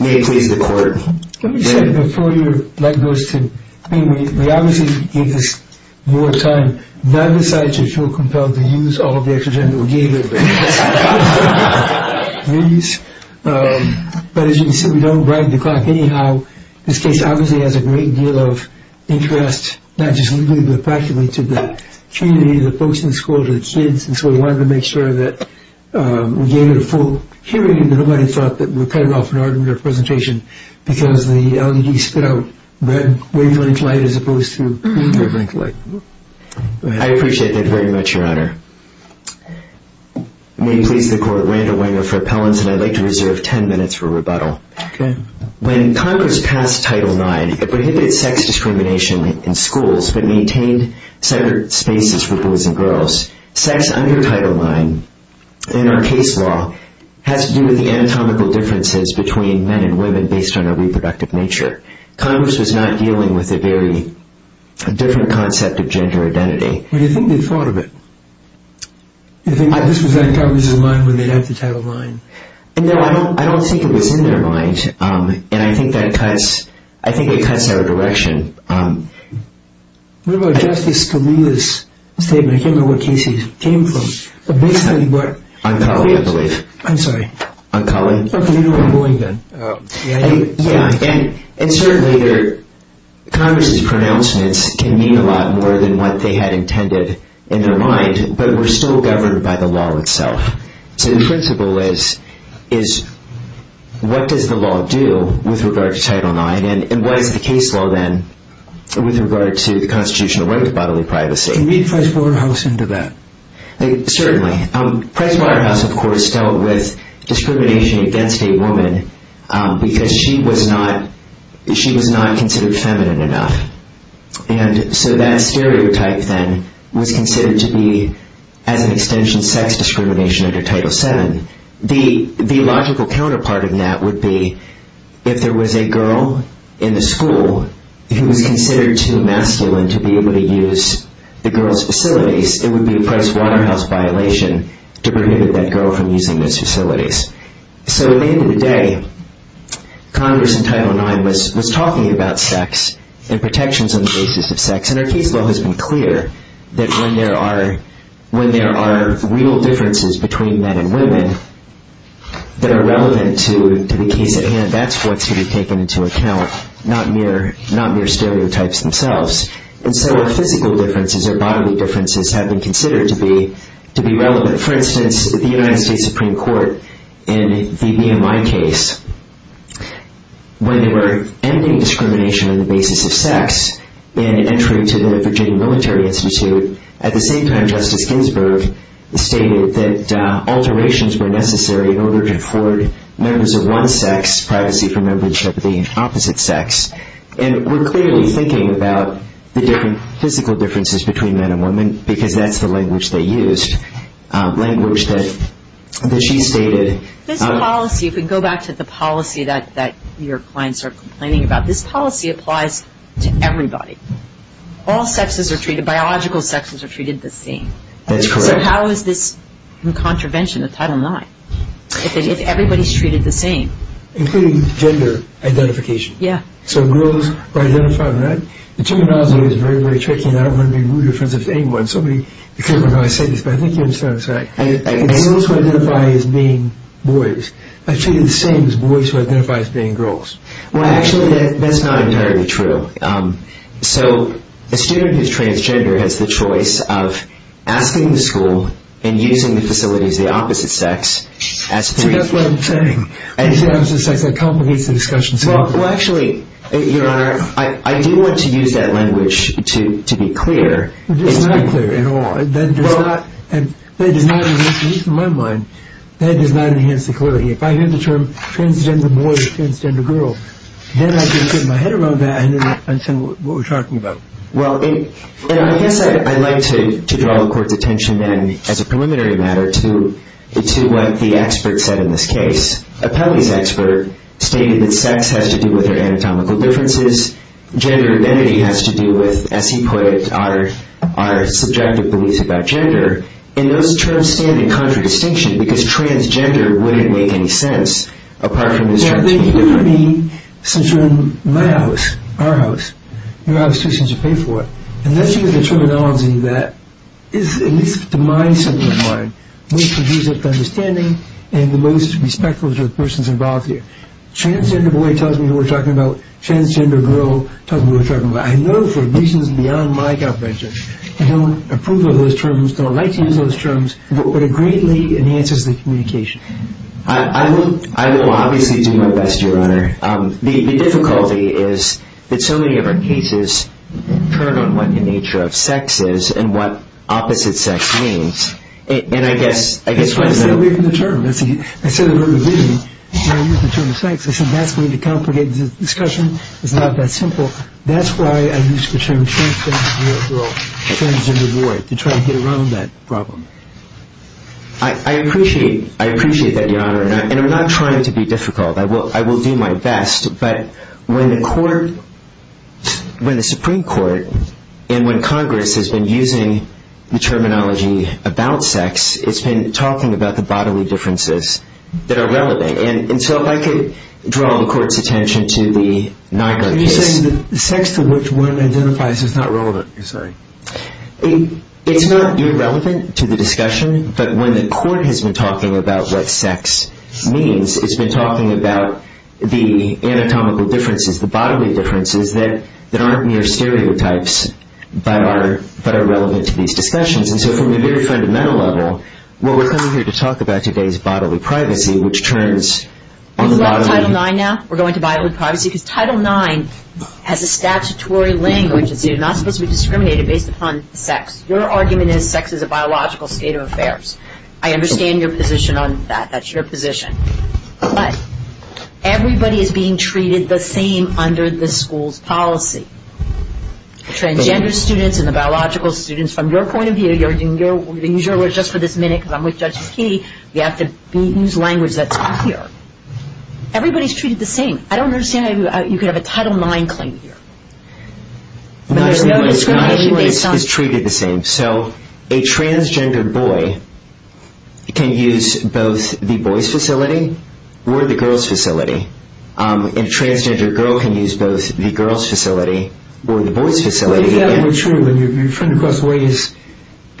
May I please record? Let me say before you let those two... We obviously gave this your time. That decides if you're compelled to use all of the extra-general data. But as you can see we don't break the clock. Anyhow, this case obviously has a great deal of interest. Not just legally but practically to that community, the folks in the schools, the kids. And so we wanted to make sure that we gave it a full hearing and nobody thought that we were cutting off an argument or a presentation because the LED stood out. We're doing tonight as opposed to a few years ago. I appreciate that very much, your honor. May you please record. I'd like to reserve 10 minutes for rebuttal. When Congress passed Title IX, it prohibited sex discrimination in schools but maintained separate spaces for boys and girls. Sex under Title IX in our case law has to do with anatomical differences between men and women based on their reproductive nature. Congress was not dealing with a very different concept of gender identity. Do you think they thought of it? Do you think Congress was in line when they passed the Title IX? No, I don't think it was in their minds. And I think it cuts that direction. What about Justice Scalia's statement? I can't remember what case he came from. I'm sorry. I'm calling. And certainly Congress's pronouncements can mean a lot more than what they had intended in their mind, but were still governed by the law itself. So the principle is, what does the law do with regard to Title IX and what is the case law then with regard to the Constitutional right to bodily privacy? Can you read Price Waterhouse into that? Certainly. Price Waterhouse, of course, dealt with discrimination against a woman because she was not considered feminine enough. And so that stereotype then was considered to be, I think, an extension of sex discrimination under Title VII. The logical counterpart in that would be if there was a girl in the school who was considered too masculine to be able to use the girl's facilities, it would be a Price Waterhouse violation to prevent that girl from using those facilities. So at the end of the day, Congress in Title IX was talking about sex and protections on the basis of sex, and our case law has been clear that when there are real differences between men and women that are relevant to the case at hand, that's what should be taken into account, not mere stereotypes themselves. And so physical differences or bodily differences have been considered to be relevant. For instance, the United States Supreme Court in the VMI case, when they were ending discrimination on the basis of sex in an entry to the Virginia Military Institute, at the same time Justice Ginsburg stated that alterations were necessary in order to afford members of one sex privacy from membership of the opposite sex. And we're clearly thinking about the different physical differences between men and women because that's the language they used, language that she stated. This policy, you can go back to the policy that your clients are complaining about, this policy applies to everybody. All sexes are treated, biological sexes are treated the same. That's correct. So how is this in contravention of Title IX if everybody's treated the same? Including gender identification. Yeah. So girls are identified in that. The terminology is very, very tricky, and I don't want to be rude in front of anyone, so many people don't know I said this, but I think you understand what I'm saying. And males who identify as being boys are treated the same as boys who identify as being girls. Well, actually, that's not entirely true. So a student who's transgender has the choice of asking the school and using the facilities of the opposite sex. So that's what I'm saying. It's the opposite sex that complicates the discussion. Well, actually, I do want to use that language to be clear. It's not clear at all. At least in my mind, that does not enhance the clarity. If I hear the term transgender boys, transgender girls, then I can get my head around that and say what we're talking about. Well, I guess I'd like to draw the Court's attention then as a preliminary matter to what the expert said in this case. Appellee's expert stated that sex has to do with their anatomical differences. Gender identity has to do with, as he put it, our subjective beliefs about gender. And those terms stand in contradistinction because transgender wouldn't make any sense apart from the sex world. Yeah, but it wouldn't be since you're in my house, our house, and you're out of tuition to pay for it. Unless you have a children's home and you do that, it makes the mindset of the mind, most conducive to understanding, and the most respectful to the persons involved here. Transgender boy tells me what we're talking about. Transgender girl tells me what we're talking about. I know for reasons beyond my comprehension, and I would approve of those terms, but I would like to use those terms, but it greatly enhances the communication. I will obviously do my best, Your Honor. The difficulty is that so many different cases turn on what the nature of sex is and what opposite sex means. And I guess, I guess... That's not a great new term. Instead of the word vision, you're going to use the term sex. I think that's going to be a complicated expression. It's not that simple. That's why I use the term transgender girl, transgender boy, to try to get around that problem. I appreciate, I appreciate that, Your Honor. And I'm not trying to be difficult. I will, I will do my best. But when the court, when the Supreme Court, and when Congress has been using the terminology about sex, it's been talking about the bodily differences that are relevant. And so if I could draw the court's attention to the non-religious... You're saying the sex to which one identifies is not relevant, you're saying? It's not irrelevant to the discussion, but when the court has been talking about what sex means, it's been talking about the anatomical differences, the bodily differences that aren't mere stereotypes, but are relevant to these discussions. And so from a very fundamental level, what we're coming here to talk about today is bodily privacy, which turns... Are we going to Title IX now? We're going to bodily privacy? Because Title IX has a statutory language that says you're not supposed to discriminate based upon sex. Your argument is sex is a biological state of affairs. I understand your position on that. That's your position. But everybody is being treated the same under the school's policy. Transgender students and the biological students, from your point of view... You're going to use your words just for this minute because I'm with Justice Keeney. You have to use language that's here. Everybody's treated the same. I don't understand how you could have a Title IX claim here. No, everyone is treated the same. So, a transgender boy can use both the boys' facility or the girls' facility. A transgender girl can use both the girls' facility or the boys' facility. If that were true, and you're trying to cross ways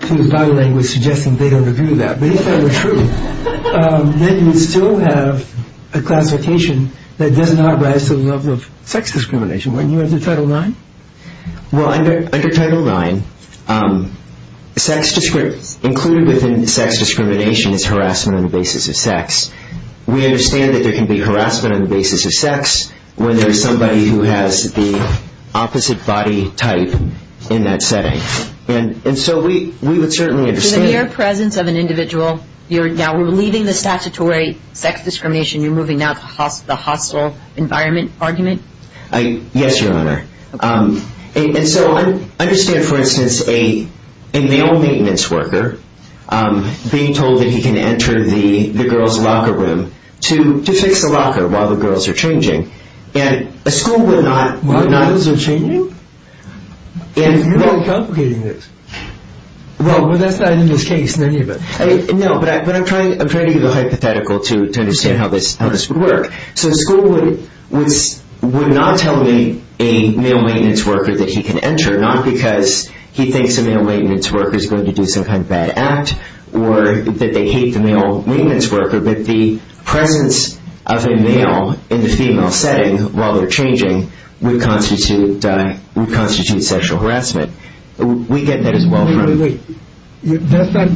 to the body language suggesting they don't agree with that, but if that were true, then we'd still have a classification that does not rise to the level of sex discrimination when you're under Title IX? Well, under Title IX, included within sex discrimination is harassment on the basis of sex. We understand that there can be harassment on the basis of sex when there's somebody who has the opposite body type in that setting. And so, we would certainly understand... So, in your presence of an individual, now we're leaving the statutory sex discrimination. You're moving now to the hospital environment argument? Yes, Your Honor. And so, I understand, for instance, a male maintenance worker being told that he can enter the girls' locker room to fix the locker while the girls are changing. And a school would not... While the girls are changing? And you're both advocating this. Well, that's not in this case, many of us. No, but I'm trying to use a hypothetical to understand how this would work. So, a school would not tell a male maintenance worker that he can enter, not because he thinks a male maintenance worker is going to do some kind of bad act or that they hate the male maintenance worker, but the presence of a male in this female setting while they're changing would constitute sexual harassment. We get that as well from... Wait, wait, wait. You have that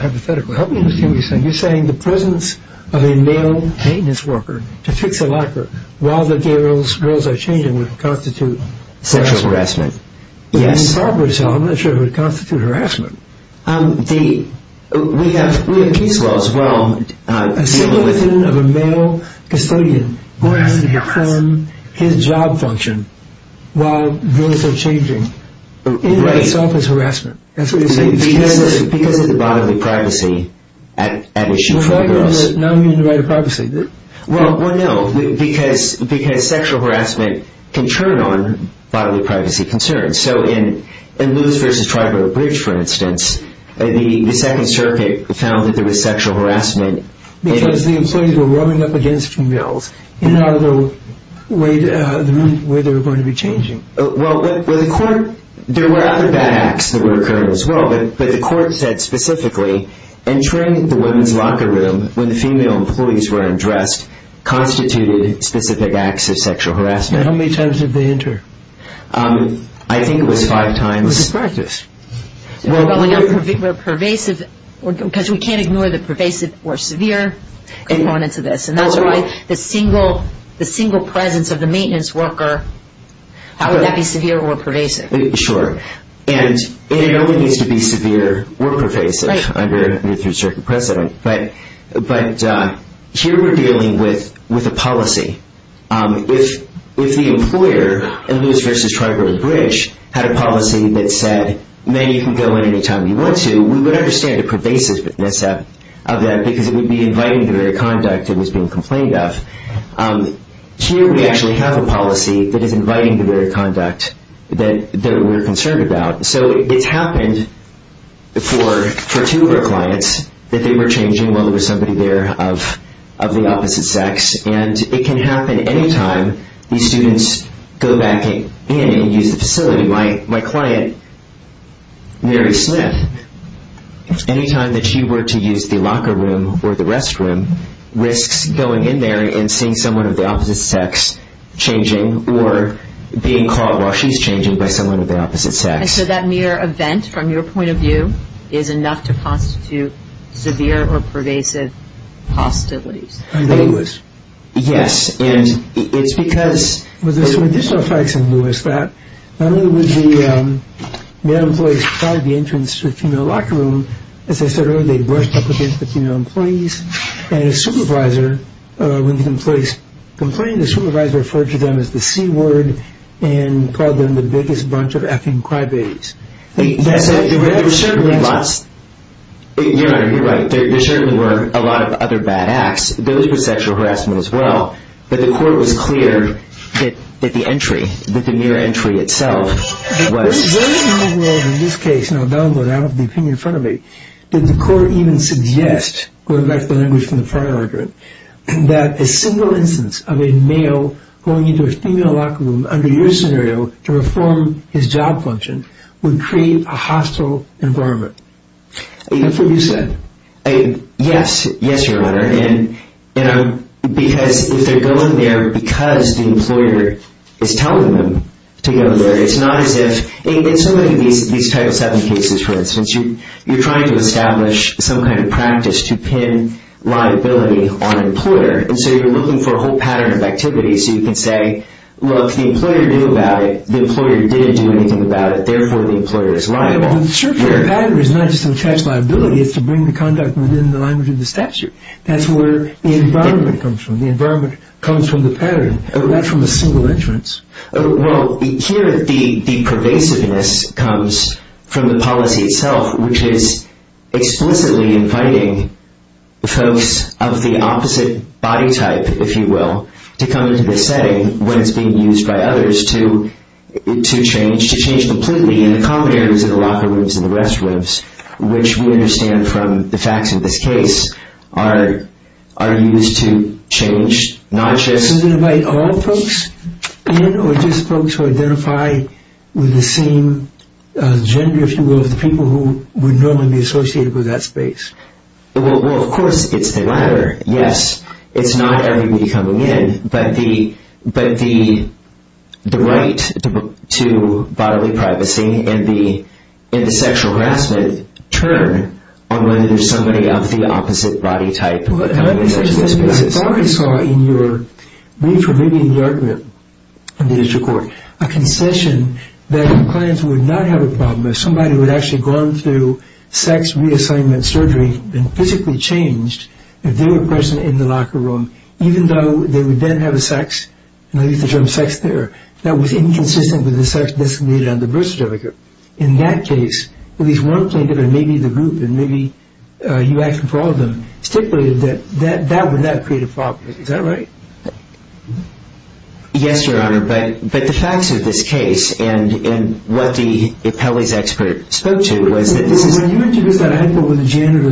hypothetical. How do you understand what you're saying? You're saying the presence of a male maintenance worker to fix the locker while the girls are changing would constitute sexual harassment. Yes. If he's talking to himself, it should constitute harassment. And the... We have... Well, it's wrong. The presence of a male custodian who has to harm his job function while girls are changing in and of itself is harassment. Because of the bodily privacy at issue for the girls. No, I don't mean the right of privacy. Well, no, because sexual harassment can turn on bodily privacy concerns. So, in Lewis v. Tribal Bridge, for instance, the Second Circuit found that there was sexual harassment... Because the employees were warming up against females in the room where they were going to be changing. Well, the court... There were other bad acts that would occur as well, but the court said specifically entering the women's locker room when the female employees were undressed constituted specific acts of sexual harassment. How many times did they enter? I think it was five times. It was a crisis. Well, but we know pervasive... Because we can't ignore the pervasive or severe components of this. That's right. The single presence of the maintenance worker has to be severe or pervasive. Sure. And no one needs to be severe or pervasive under a new Third Circuit precedent. But here we're dealing with a policy. If the employer in Lewis v. Tribal Bridge had a policy that said, men, you can go in any time you want to, we would understand the pervasiveness of that because it would be inviting the very conduct that was being complained of. Here we actually have a policy that is inviting the very conduct that we're concerned about. So it happened for two of our clients that they were changing while there was somebody there of the opposite sex, and it can happen any time these students go back in and use the facility. My client, Mary Smith, anytime that she were to use the locker room or the restroom, risks going in there and seeing someone of the opposite sex changing or being caught while she's changing by someone of the opposite sex. And so that mere event, from your point of view, is enough to constitute severe or pervasive hostilities. Under Lewis. Yes. And it's because... We just saw facts in Lewis that not only was the male employee inside the entrance to the female locker room, as I said earlier, they brushed up against the female employees, and a supervisor, when the employees complained, the supervisor referred to them as the C-Word and called them the biggest bunch of effing cry-babies. There certainly were a lot... You're right, you're right. There certainly were a lot of other bad acts. Those were sexual harassment as well. But the court was clear that the entry, that the mere entry itself was... In this case, now that I'm going to have the opinion in front of me, did the court even suggest, going back to the language from the prior argument, that a single instance of a male going into a female locker room under your scenario to reform his job functions would create a hostile environment? That's what you said. Yes, yes, Your Honor. And, you know, because if they're going there because the employer is telling them to go there, it's not as if... In some of these types of cases, for instance, you're trying to establish some kind of practice to pin liability on an employer, and so you're looking for a whole pattern of activity so you can say, well, if the employer knew about it, the employer didn't do anything about it, therefore the employer is liable. The pattern is not just to attach liability, it's to bring the conduct within the language of the statute. That's where the environment comes from. The environment comes from the pattern, not from the single entrance. Well, here the pervasiveness comes from the policy itself, which is explicitly inviting folks of the opposite body type, if you will, to come to the setting when it's being used by others to change completely, and the common areas of the locker rooms and the restrooms, which we understand from the facts of this case, are used to change, not just... So does it invite all folks in, or just folks who identify with the same gender, if you will, of the people who would normally be associated with that space? Well, of course it's the latter, yes. It's not everybody coming in, but the right to bodily privacy and the sexual harassment turn on whether there's somebody of the opposite body type. As far as I saw in your brief, or maybe in the argument of the district court, a concession that the clients would not have a problem if somebody would actually go on to sex reassignment surgery and physically change if they were present in the locker room, even though they would then have a sex, and I use the term sex there, that was inconsistent with the sex designated on the birth certificate. In that case, at least one candidate, and maybe the group, and maybe you asked for all of them, stipulated that that would not create a problem. Is that right? Yes, Your Honor. But the facts of this case and what the appellee's expert spoke to was that... When you introduced that idea with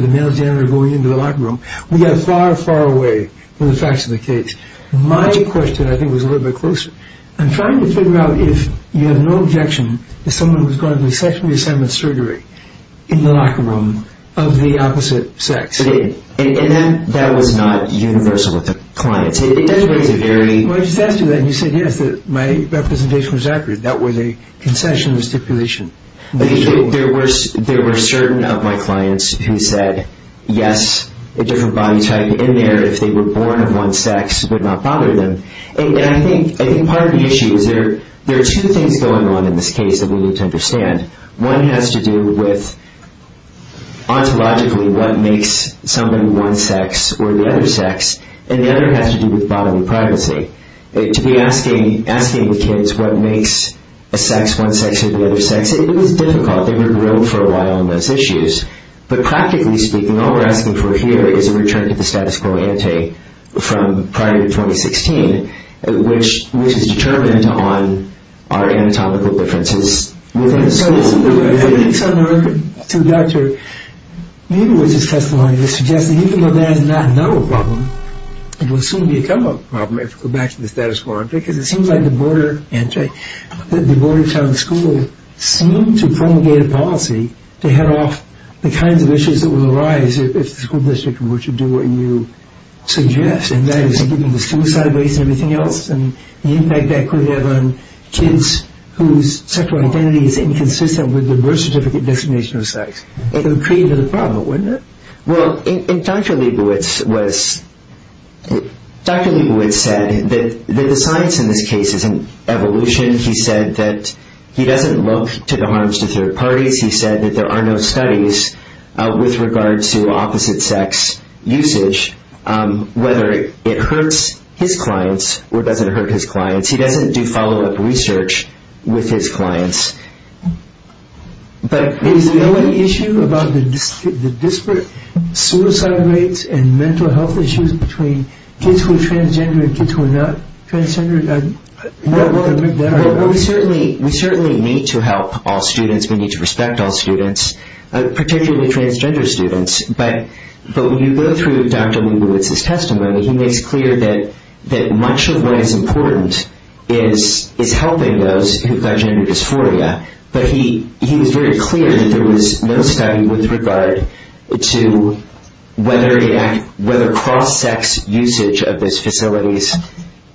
the male janitor going into the locker room, we got far, far away from the facts of the case. My question, I think, was a little bit closer. I'm trying to figure out if you have no objection that someone was going on to sex reassignment surgery in the locker room of the opposite sex. And then that was not universal with the client. That's a very... I just asked you that, and you said yes, that my representation was accurate. That was a concession, a stipulation. There were certain of my clients who said yes, a different body type in there if they were born among sex would not bother them, and I think part of the issue is that there are two things going on in this case that we need to understand. One has to do with, ontologically, what makes someone one sex or the other sex, and the other has to do with bodily privacy. To be asking the kids what makes a sex one sex or the other sex, it was difficult. They were driven for a while on those issues. But practically speaking, all we're asking for here is a return to the status quo ante from prior to 2016, which is determined on our anatomical differences. I think it's unheard to Dr. Nagle's testimony to suggest that you can go back and not know a problem, and will soon become a problem if you go back to the status quo ante, because it seems like the border... that the borders on the school seem to promulgate a policy to head off the kinds of issues that will arise if the school district were to do what you suggest, and that is to give them the suicide rates and everything else, and the impact that could have on kids whose sexual identity is inconsistent with the birth certificate designation of sex. It would create another problem, wouldn't it? Well, and Dr. Leibowitz was... Dr. Leibowitz said that the science in this case isn't evolution. He said that he doesn't look to the harms of third parties. He said that there are no studies with regard to opposite-sex usage, whether it hurts his clients or doesn't hurt his clients. He doesn't do follow-up research with his clients. But... Is there any issue about the disparate suicide rates and mental health issues between kids who are transgender and kids who are not transgender? I'm not one to make that argument. Well, we certainly need to help all students. We need to respect all students, particularly transgender students. But when you go through Dr. Leibowitz's testimony, he made it clear that much of what is important is helping those who have got gender dysphoria. But he was very clear that there was no study with regard to whether cross-sex usage of these facilities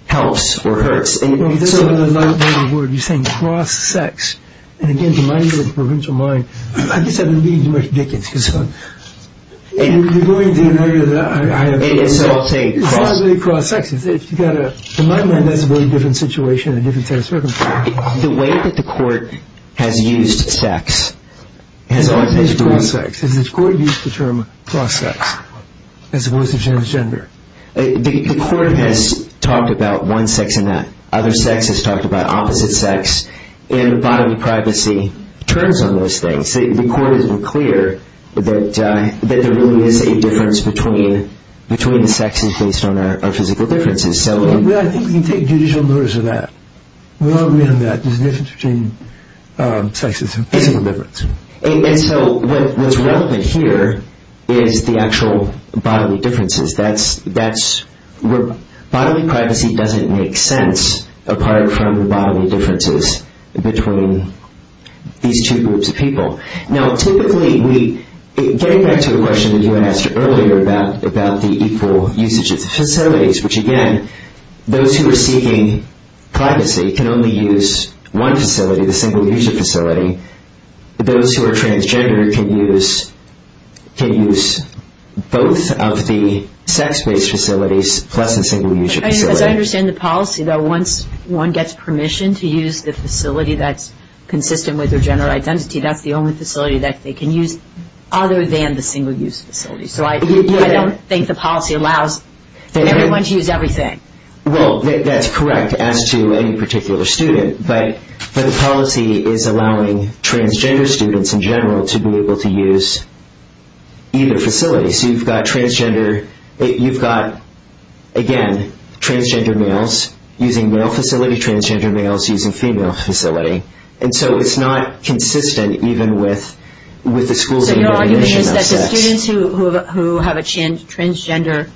helps or hurts. You're saying cross-sex. And again, to my provincial mind, I just have to leave you with Dickens. You're going to an area that I have... It's all taken. It's all the way across sex. To my mind, that's one different situation and different set of circumstances. The way that the court has used sex... It's all the way across sex. And the court used the term cross-sex as opposed to transgender. The court has talked about one sex enough. Other sex is talked about, opposite sex. And bodily privacy turns on those things. The court has been clear that there really is a difference between the sexes based on our physical differences. I think we can take judicial notice of that. We all agree on that. There's a difference between sexes and physical differences. And so what is relevant here is the actual bodily differences. That's where bodily privacy doesn't make sense apart from the bodily differences between these two groups of people. Now, typically we... Getting back to the question that you asked earlier about the equal usage of the facilities, which again, those who are seeking privacy can only use one facility, the single-user facility. Those who are transgender can use both of the sex-based facilities plus the single-user facility. I understand the policy that once one gets permission to use the facility that's consistent with their general identity, that's the only facility that they can use other than the single-user facility. So I don't think the policy allows everyone to use everything. Well, that's correct as to any particular student. But the policy is allowing transgender students in general to be able to use either facility. Okay, so you've got transgender... You've got, again, transgender males using male facility, transgender males using female facility. And so it's not consistent even with the school's... So you're arguing that the students who have a transgender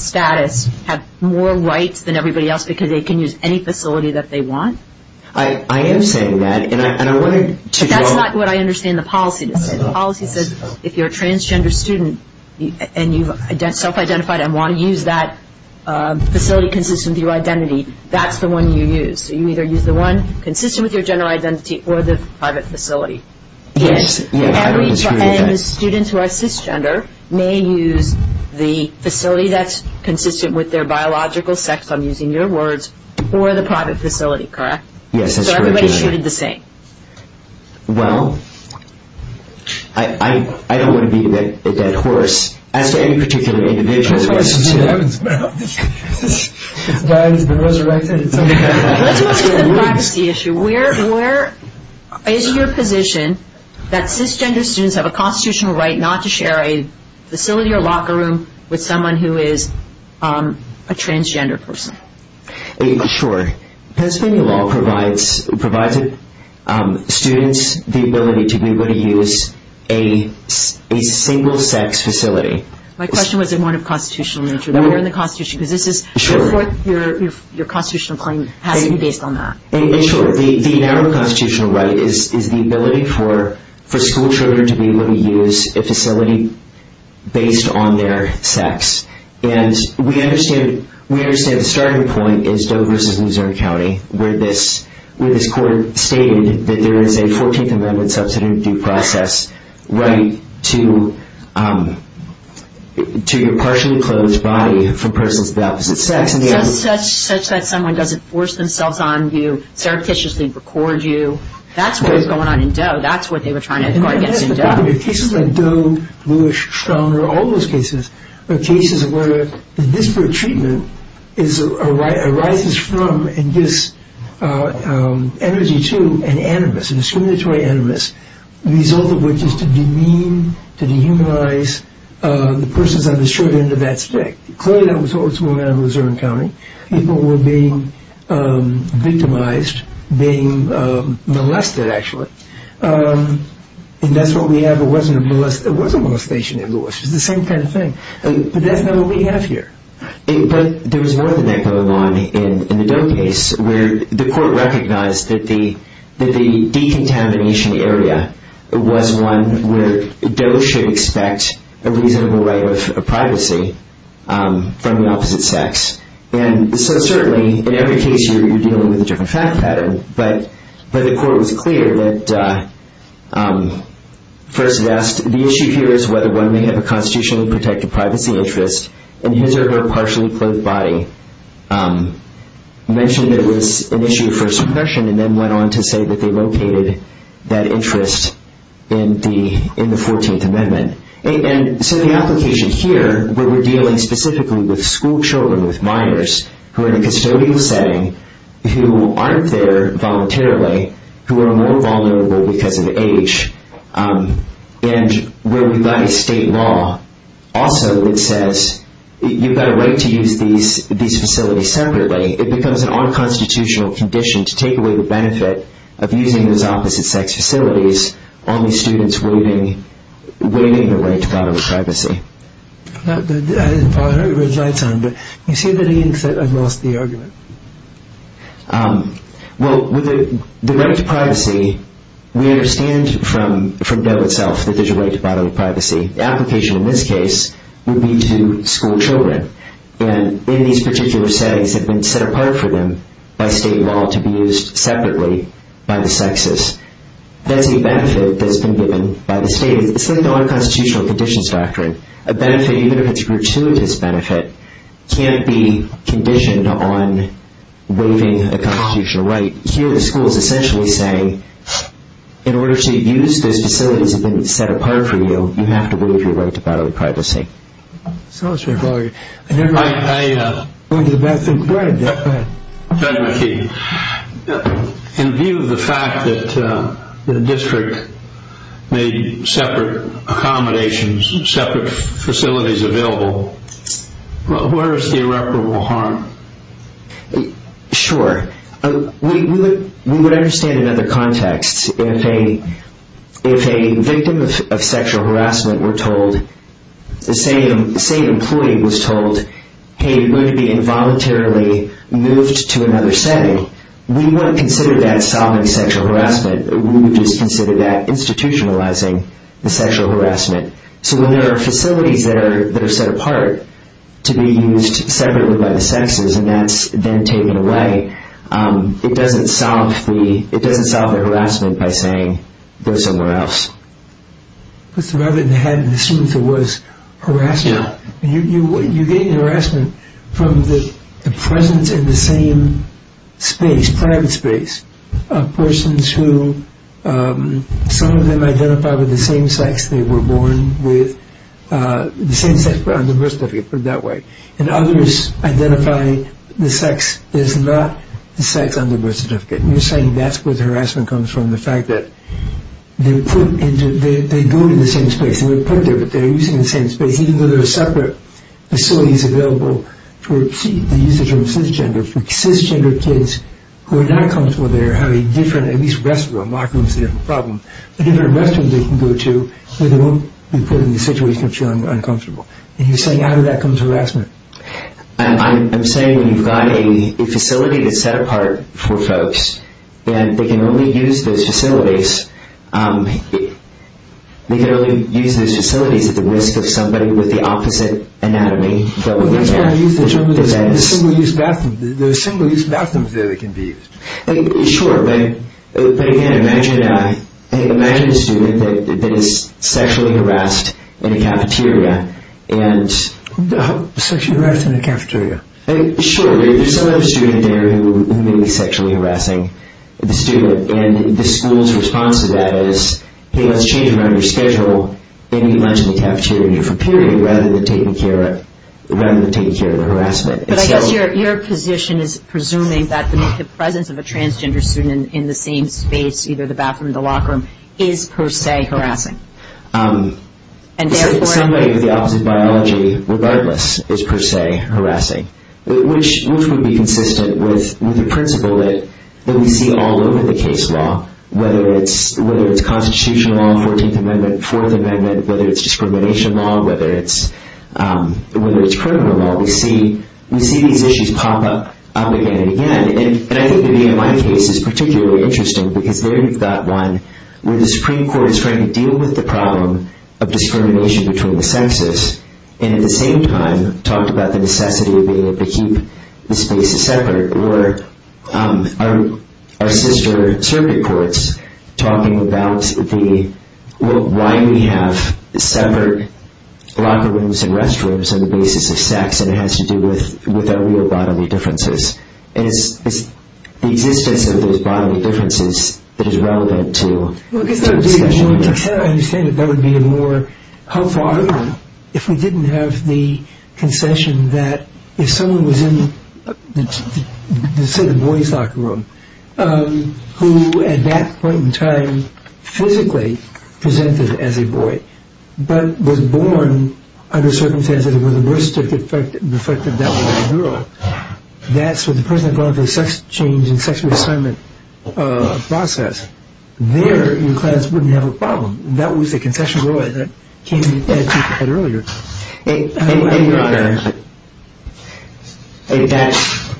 status have more rights than everybody else because they can use any facility that they want? I am saying that. That's not what I understand the policy to say. The policy says if you're a transgender student and you self-identify and want to use that facility consistent with your identity, that's the one you use. So you either use the one consistent with your general identity or the private facility. Yes. And students who are cisgender may use the facility that's consistent with their biological sex, I'm using your words, or the private facility, correct? Yes, that's correct. So everybody should do the same. Well, I don't want to be a dead horse. As any particular individual... That's the issue. Where is your position that cisgender students have a constitutional right not to share a facility or locker room with someone who is a transgender person? Sure. Pennsylvania law provides students the ability to be able to use a single-sex facility. My question was more of a constitutional issue. What's your constitutional claim having to be based on that? The general constitutional right is the ability for school children to be able to use a facility based on their sex. We understand the starting point is Doe vs. Missouri County, where this court stated that there is a 14th Amendment substantive due process right to your partially-closed body from personal deaths. Such that someone doesn't force themselves on you, surreptitiously record you. That's what was going on in Doe. That's what they were trying to do in Doe. In fact, cases like Doe, Lewis, Stronger, all those cases are cases where disparate treatment arises from and gives energy to an animus, a discriminatory animus, the result of which is to demean, to dehumanize the persons on the short end of that stick. Clearly, that was what was going on in Missouri County. People were being victimized, being molested, actually. And that's what we have. It wasn't a molestation in Lewis. It was the same kind of thing. But that's not what we have here. But there's more than that going on in the Doe case, where the court recognized that the decontamination area was one where Doe should expect a reasonable right of privacy from the opposite sex. So certainly, in every case, you're dealing with a different fact pattern. But the court was clear that first it asked, the issue here is whether one may have a constitutionally protected privacy interest, and his or her partially clothed body mentioned that it was an issue for suppression and then went on to say that they located that interest in the 14th Amendment. And so the application here, where we're dealing specifically with schoolchildren, with minors, who are in a custodial setting, who aren't there voluntarily, who are more vulnerable because of age, and where we've got a state law also that says you've got a right to use these facilities separately, it becomes an unconstitutional condition to take away the benefit of using those opposite sex facilities on these students waiving a right to follow privacy. I didn't follow it over his lifetime, but he said that he accepted most of the argument. Well, the right to privacy, we understand from Doe itself that there's a right to bodily privacy. The application in this case would be to schoolchildren. And in these particular settings, they've been set apart for them by state law to be used separately by the sexes. That's the benefit that's been given by the state. It's an unconstitutional condition factor. A benefit, even if it's gratuitous benefit, can't be conditioned on waiving a constitutional right. Here, the school is essentially saying, in order to use those facilities that have been set apart for you, you have to waive your right to bodily privacy. I'm sorry. Go ahead. Thank you. In view of the fact that the district made separate accommodations and separate facilities available, where is the irreparable harm? Sure. We would understand in other contexts. If a victim of sexual harassment, we're told, the same employee was told, hey, you're going to be involuntarily moved to another setting, we wouldn't consider that solving sexual harassment. We would just consider that institutionalizing the sexual harassment. So when there are facilities that are set apart to be used separately by the sexes, and that's then taken away, it doesn't solve the harassment by saying, go somewhere else. Mr. Robin had a sluice of words. Harassment. You're getting harassment from the presence in the same space, private space, of persons who, some of them identify with the same sex they were born with, the same sex under birth certificate, put it that way. And others identify the sex as not the sex under birth certificate. And you're saying that's where the harassment comes from, the fact that they go in the same space, and they're put there, they're using the same space, even though there are separate facilities available for the usage of cisgenders. Cisgender kids who are not comfortable there have a different, at least rest of them, are not going to have a problem. But if there are restrooms they can go to, they won't be put in the situation that you're uncomfortable. And you're saying how did that come to harassment? I'm saying when you've got a facility that's set apart for folks, and they can only use those facilities, they can only use those facilities at the risk of somebody with the opposite anatomy, so they can't use the same restrooms. There are similar-use bathrooms that can be used. Sure, but again, imagine a student that is sexually harassed in a cafeteria. Who the hell sexually harasses in a cafeteria? Sure, there's a student there who may be sexually harassing the student, and the school's response to that is, hey, let's change it on your schedule, and you might as well be in the cafeteria for a period, rather than taking care of the harassment. But I guess your position is presuming that the presence of a transgender student in the same space, either the bathroom or the locker room, is per se harassing. Somebody with the opposite biology, regardless, is per se harassing, which would be consistent with the principle that we see all over the case law, whether it's constitutional law, 14th Amendment, Fourth Amendment, whether it's discrimination law, whether it's criminal law. We see these issues pop up again and again. And I think the VMI case is particularly interesting, because there you've got one where the Supreme Court is trying to deal with the problem of discrimination between the sexes, and at the same time talks about the necessity of being able to keep the space separate, or our sister circuit courts talking about why we have separate locker rooms and restrooms on the basis of sex, and it has to do with our real bodily differences. And it's the existence of those bodily differences that is relevant to... Well, I understand that there would be a more helpful argument if we didn't have the concession that if someone was in a boy's locker room, who at that point in time physically presented as a boy, but was born under circumstances where the worst effect of that was a girl, that's when the person had gone through the sex change and sex reassignment process, there in class wouldn't have a problem. That was the concession that came to the attention of the court earlier. I think that's...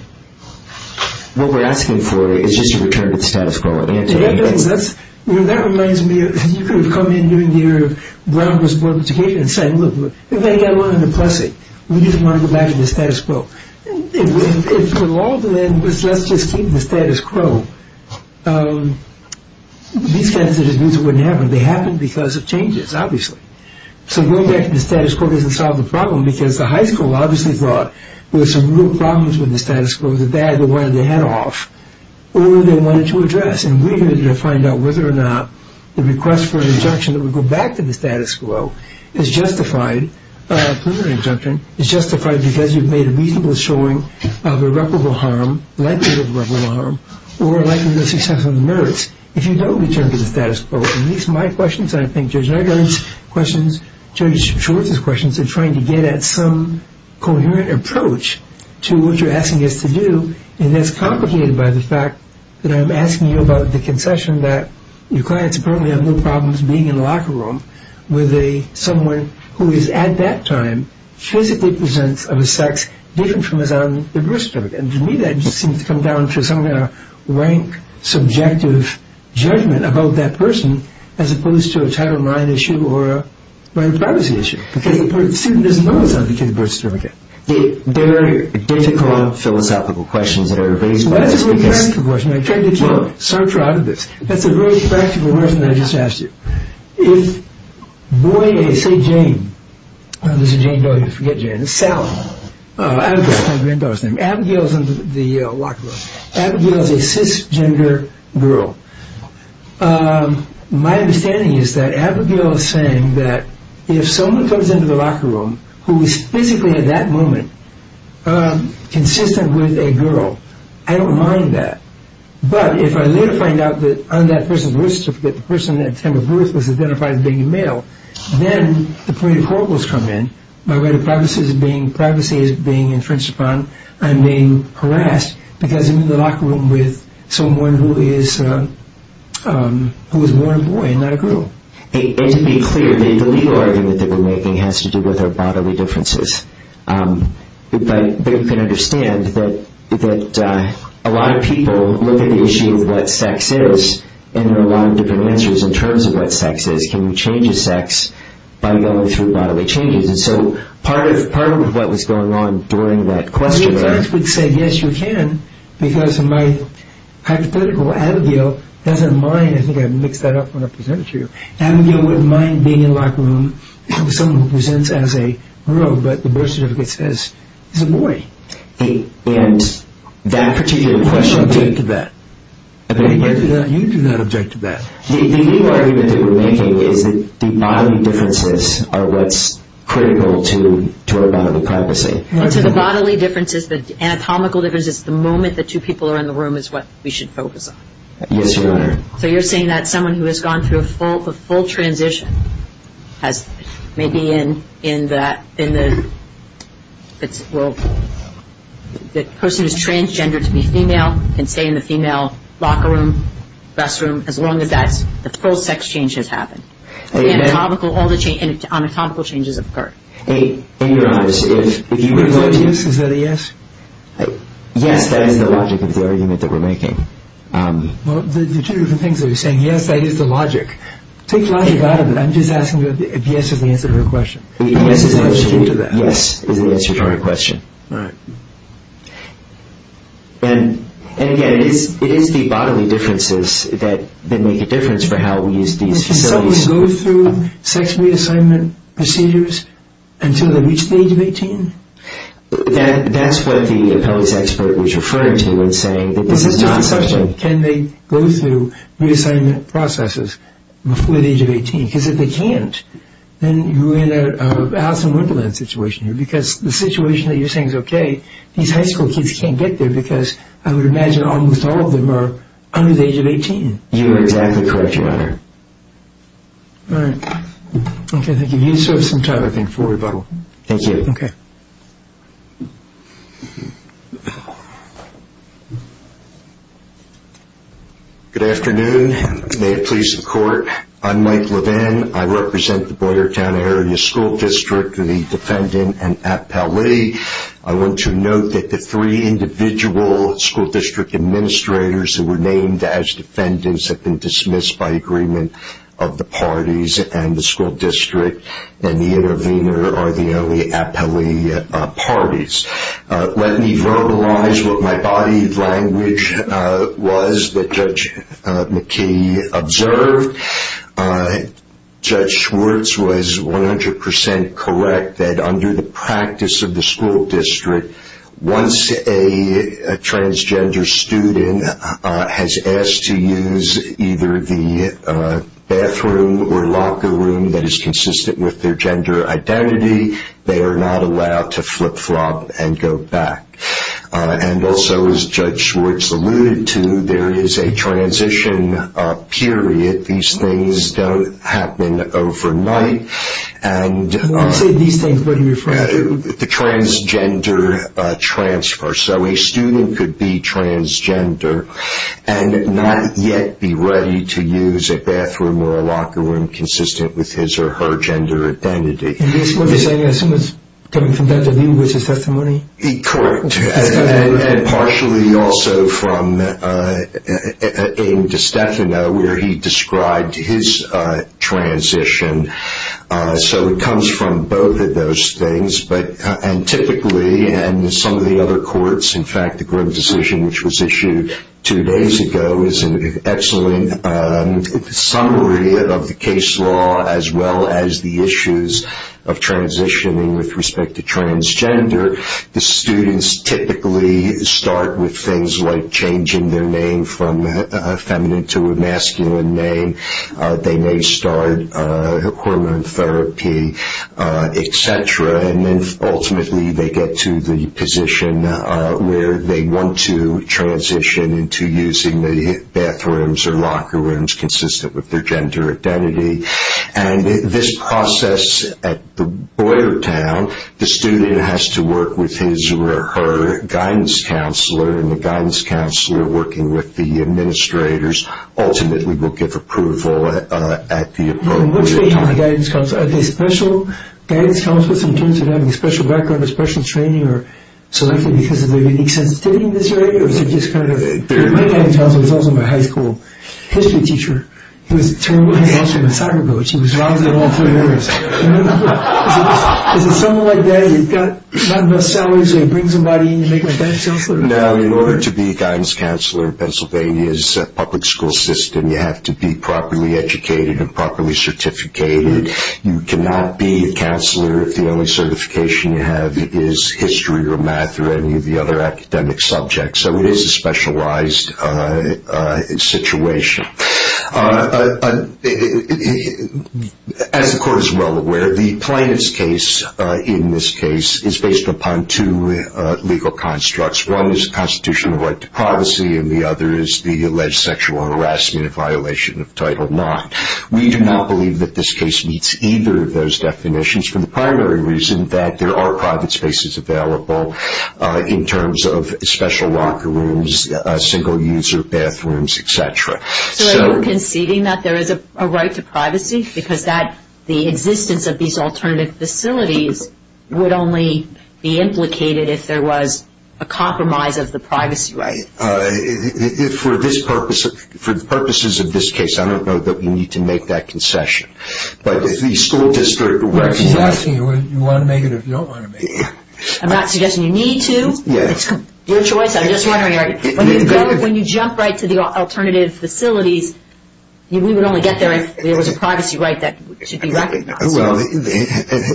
What we're asking for is just a return to the status quo. That reminds me of... You could have come in during the Brown v. Board of Education and said, Hey, that wasn't impressive. We just want to go back to the status quo. It's for longer than just let's just keep the status quo. These types of abuse wouldn't happen. They happen because of changes, obviously. So going back to the status quo doesn't solve the problem because the high school obviously brought... There were some real problems with the status quo that they either wanted to head off or they wanted to address. And we're going to find out whether or not the request for an injunction that would go back to the status quo is justified. This is an injunction. It's justified because you've made a reasonable showing of irreparable harm, likely irreparable harm, or likely the success of the merits if you don't return to the status quo. And these are my questions and I think Judge Nugent's questions, Judge Schwartz's questions, are trying to get at some coherent approach to what you're asking us to do. And it's complicated by the fact that I'm asking you about the concession that your clients apparently have no problems being in a locker room with someone who is, at that time, physically present of a sex different from his own birth certificate. And to me that just seems to come down to some kind of rank, subjective judgment about that person as opposed to a type of mind issue or a privacy issue. The student doesn't know his own birth certificate. These are philosophical questions that are based on... That is a very practical question. I'm trying to keep up. Start driving this. That's a very practical question that I just asked you. If, boy A, say Jane. Jane Doe, you forget Jane. It's Callan. Abigail is the name. Abigail is in the locker room. Abigail is a cisgender girl. My understanding is that Abigail is saying that if someone comes into the locker room who is physically, at that moment, consistent with a girl, I don't mind that. But if I later find out that I'm that person's birth certificate, the person at that time of birth was identified as being male, then the point of corruption comes in. My way of privacy is being infringed upon. I'm being harassed because I'm in the locker room with someone who is a born boy and not a girl. It should be clear that the legal argument they were making has to do with our bodily differences. But they can understand that a lot of people look at the issue of what sex is and there are a lot of different answers in terms of what sex is. Can you change a sex by going through bodily changes? And so part of what was going on during that question is that Well, you actually said, yes, you can, because my hypothetical Abigail has a mind. I think I mixed that up when I presented to you. Abigail wouldn't mind being in the locker room with someone who presents as a girl, but the birth certificate says he's a boy. And that particular question objected to that. You do not object to that. The legal argument they were making is that the bodily differences are what's critical to our bodily privacy. The bodily differences, the anatomical differences, the moment the two people are in the room is what we should focus on. Yes, Your Honor. So you're saying that someone who has gone through a full transition may be in that, in the, well, the person who is transgendered to be female can stay in the female locker room, restroom, as long as that, the full sex change has happened. And the anatomical changes occur. In your eyes, is that a yes? Yes, by the logic of the argument that we're making. Well, there's a few different things that you're saying. Yes, by just the logic. It takes a lot of data, but I'm just asking you if the answer is the answer to her question. The answer to her question, yes, is the answer to her question. All right. And, again, it is the bodily differences that make a difference for how we use these facilities. Does someone go through sex reassignment procedures until they reach the age of 18? That's what the appellate's expert, Richard Furner, is saying. It's a tough question. Can they go through reassignment processes before the age of 18? Because if they can't, then you're in a house-on-riverland situation here because the situation that you're saying is okay. These high school kids can't get there because I would imagine almost all of them are under the age of 18. You are exactly correct, Your Honor. All right. Okay, thank you. You serve some time. Thank you. Okay. Good afternoon. May it please the Court. I'm Mike Levin. I represent the Boyertown Area School District, the defendant, and appellee. I want to note that the three individual school district administrators who were named as defendants have been dismissed by agreement of the parties, and the school district and the intervener are the only appellee parties. Let me verbalize what my body of language was that Judge McKinney observed. Judge Schwartz was 100% correct that under the practice of the school district, once a transgender student has asked to use either the bathroom or locker room that is consistent with their gender identity, they are not allowed to flip-flop and go back. And also, as Judge Schwartz alluded to, there is a transition period. These things don't happen overnight. What do you think you're referring to? The transgender transfer. So a student could be transgender and not yet be ready to use a bathroom or a locker room consistent with his or her gender identity. Judge Schwartz, are you saying that's coming from the view of his testimony? Correct. And partially also from in DiStefano where he described his transition. So it comes from both of those things. And typically, and in some of the other courts, in fact, the Grimm decision which was issued two days ago is an excellent summary of the case law as well as the issues of transitioning with respect to transgender. The students typically start with things like changing their name from feminine to a masculine name. They may start hormone therapy, et cetera, and then ultimately they get to the position where they want to transition into using the bathrooms or locker rooms consistent with their gender identity. And this process at Boyertown, the student has to work with his or her guidance counselor, and the guidance counselor, working with the administrators, ultimately will give approval at the appointment. Are they special guidance counselors in terms of having a special background or special training or selected because of their unique sensibility in this area? My guidance counselor was also my high school history teacher. He was terrible at basketball. He was wrong in all three areas. Is it something like that? You've got to have enough salaries to bring somebody in and make them a guidance counselor? No. In order to be a guidance counselor in Pennsylvania's public school system, you have to be properly educated and properly certificated. You cannot be a counselor if the only certification you have is history or math or any of the other academic subjects. So it is a specialized situation. As the court is well aware, the plaintiff's case in this case is based upon two legal constructs. One is constitutional right to privacy and the other is the alleged sexual harassment in violation of Title IX. We do not believe that this case meets either of those definitions for the primary reason that there are private spaces available in terms of special locker rooms, single-user bathrooms, et cetera. So you're conceding that there is a right to privacy because the existence of these alternative facilities would only be implicated if there was a compromise of the privacy right. For the purposes of this case, I don't know that you need to make that concession. But if the school district recognizes it- I'm not suggesting you want to make it or you don't want to make it. I'm not suggesting you need to. It's your choice. I'm just wondering. Robert, when you jump right to the alternative facilities, we would only guess there was a privacy right that should be recognized. Well,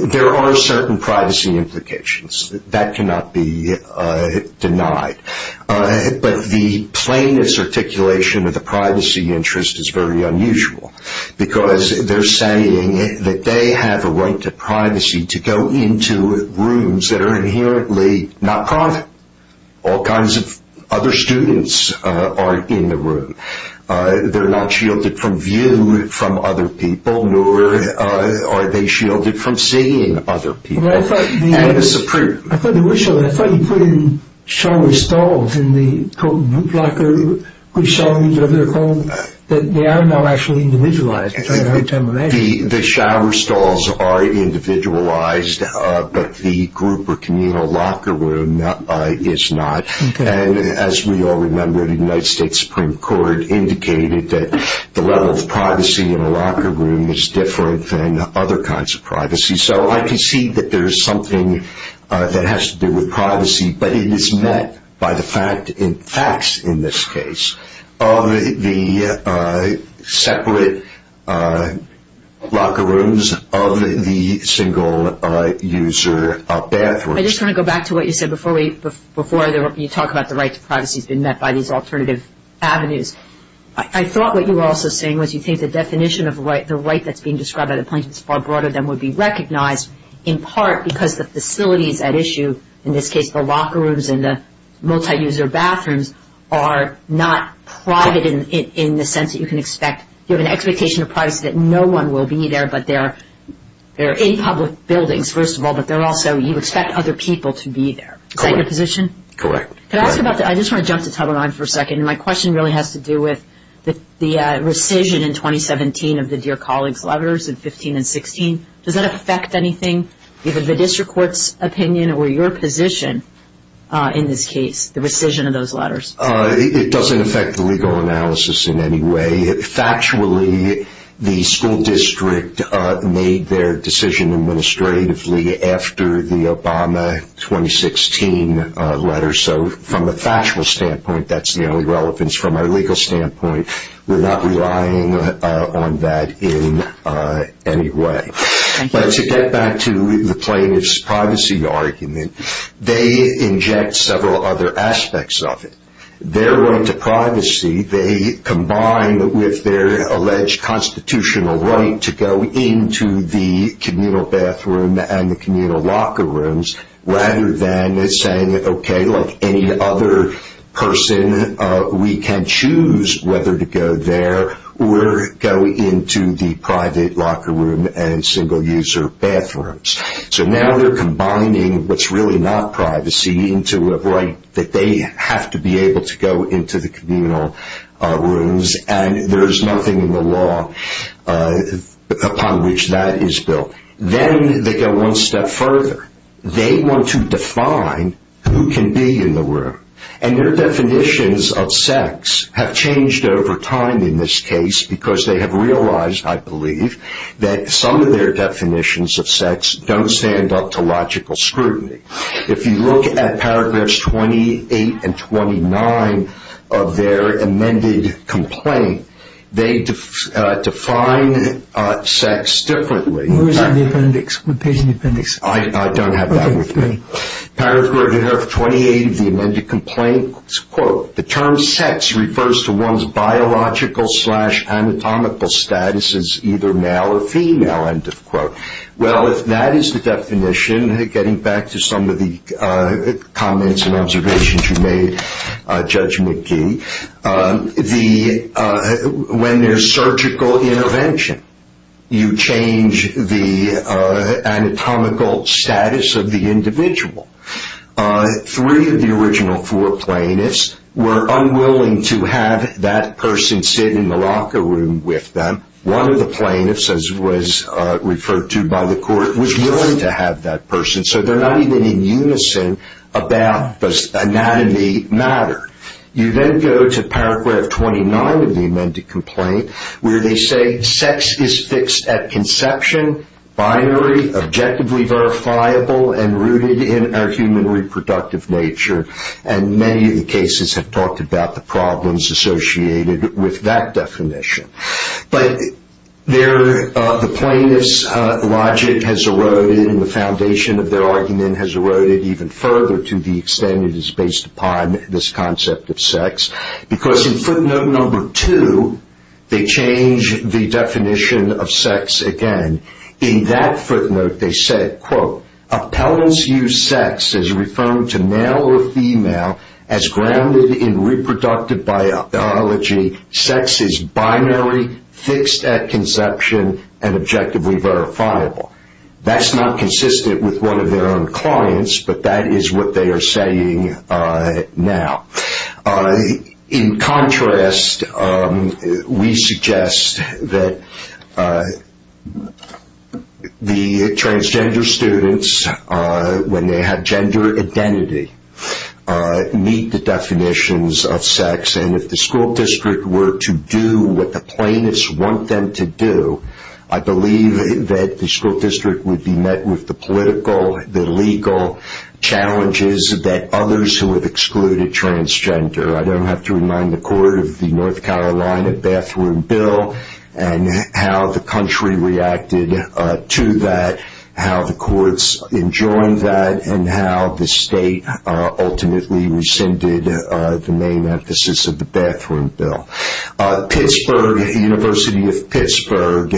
there are certain privacy implications. That cannot be denied. But the plainness articulation of the privacy interest is very unusual because they're saying that they have a right to privacy to go into rooms that are inherently not private. They're not shielded from view from other people, nor are they shielded from seeing other people. Well, I thought you put in shower stalls in the, quote, locker room, which show that they are now actually individualized. The shower stalls are individualized, but the group or communal locker room is not. As we all remember, the United States Supreme Court indicated that the level of privacy in a locker room is different than other kinds of privacy. So I can see that there is something that has to do with privacy, but it is met by the fact in this case of the separate locker rooms of the single-user bathrooms. I just want to go back to what you said before you talk about the rights of privacy being met by these alternative avenues. I thought what you were also saying was you think the definition of the right that's being described at a place that's far broader than would be recognized in part because the facilities at issue, in this case the locker rooms and the multi-user bathrooms, are not private in the sense that you can expect. You have an expectation of privacy that no one will be there, but they're in public buildings, first of all, but you expect other people to be there. Is that your position? Correct. I just want to jump the top of my head for a second. My question really has to do with the rescission in 2017 of the Dear Colleagues letters in 2015 and 2016. Does that affect anything, given the district court's opinion or your position in this case, the rescission of those letters? It doesn't affect the legal analysis in any way. Factually, the school district made their decision administratively after the Obama 2016 letters, so from a factual standpoint, that's the only relevance. From a legal standpoint, we're not relying on that in any way. But to get back to the plaintiff's privacy argument, they inject several other aspects of it. They're going to privacy. They combine with their alleged constitutional right to go into the communal bathroom and the communal locker rooms rather than saying, okay, like any other person, we can choose whether to go there or go into the private locker room and single-user bathrooms. So now they're combining what's really not privacy into a right that they have to be able to go into the communal rooms, and there's nothing in the law upon which that is built. Then they go one step further. They want to define who can be in the room, and their definitions of sex have changed over time in this case because they have realized, I believe, that some of their definitions of sex don't stand up to logical scrutiny. If you look at paragraphs 28 and 29 of their amended complaint, they define sex differently. Where is the appendix? I don't have that with me. Paragraph 28 of the amended complaint, quote, the term sex refers to one's biological slash anatomical status as either male or female, end of quote. Well, if that is the definition, getting back to some of the comments and observations you made, Judge McGee, when there's surgical intervention, you change the anatomical status of the individual. Three of the original four plaintiffs were unwilling to have that person sit in the locker room with them. One of the plaintiffs, as was referred to by the court, was willing to have that person, so they're not even in unison about does anatomy matter. You then go to paragraph 29 of the amended complaint, where they say sex is fixed at conception, binary, objectively verifiable, and rooted in our human reproductive nature, and many of the cases have talked about the problems associated with that definition. But the plaintiff's logic has eroded and the foundation of their argument has eroded even further to the extent it is based upon this concept of sex, because in footnote number two, they change the definition of sex again. In that footnote, they said, quote, Appellants use sex as referring to male or female as grounded in reproductive biology. Sex is binary, fixed at conception, and objectively verifiable. That's not consistent with one of their own clients, but that is what they are saying now. In contrast, we suggest that the transgender students, when they have gender identity, meet the definitions of sex, and if the school district were to do what the plaintiffs want them to do, I believe that the school district would be met with the political, the legal challenges that others who have excluded transgender. I don't have to remind the court of the North Carolina bathroom bill and how the country reacted to that, how the courts enjoined that, and how the state ultimately rescinded the main emphasis of the bathroom bill. Pittsburgh University of Pittsburgh,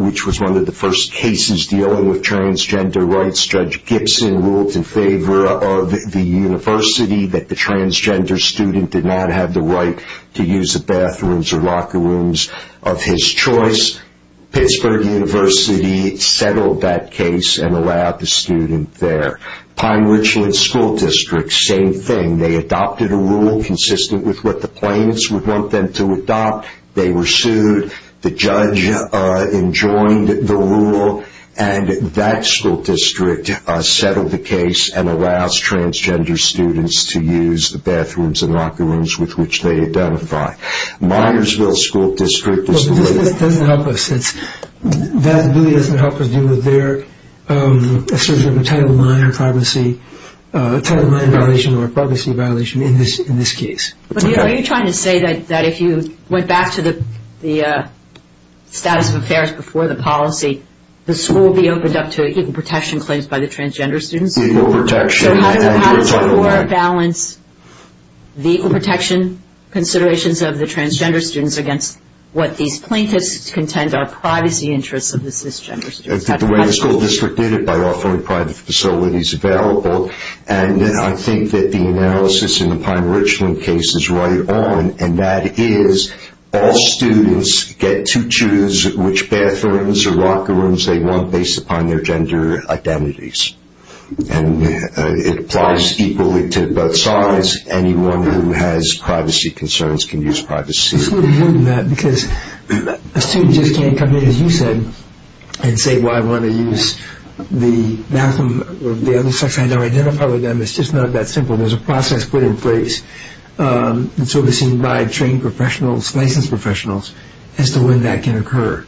which was one of the first cases dealing with transgender rights, Judge Gibson ruled in favor of the university that the transgender student did not have the right to use the bathrooms or locker rooms of his choice. Pittsburgh University settled that case and allowed the student there. Pine Ridgeland School District, same thing. They adopted a rule consistent with what the plaintiffs would want them to adopt. They were sued. The judge enjoined the rule, and that school district settled the case and allows transgender students to use the bathrooms and locker rooms with which they identify. Myersville School District... That doesn't help us. That really doesn't help us deal with their title IX or privacy violation in this case. Are you trying to say that if you went back to the status affairs before the policy, the school would be opened up to equal protection claims by the transgender student? No protection. How does the law balance the protection considerations of the transgender student against what these plaintiffs contend are privacy interests of the cisgender student? The school district did it by offering private facilities available, and I think that the analysis in the Pine Ridgeland case is right on, and that is all students get to choose which bathrooms or locker rooms they want based upon their gender identities. And it applies equally to both sides. Anyone who has privacy concerns can use privacy. It's a little different than that because a student just can't come in, as you said, and say, well, I want to use the bathroom or the other section I know identified with them. It's just not that simple. There's a process put in place and servicing by trained professionals, licensed professionals as to when that can occur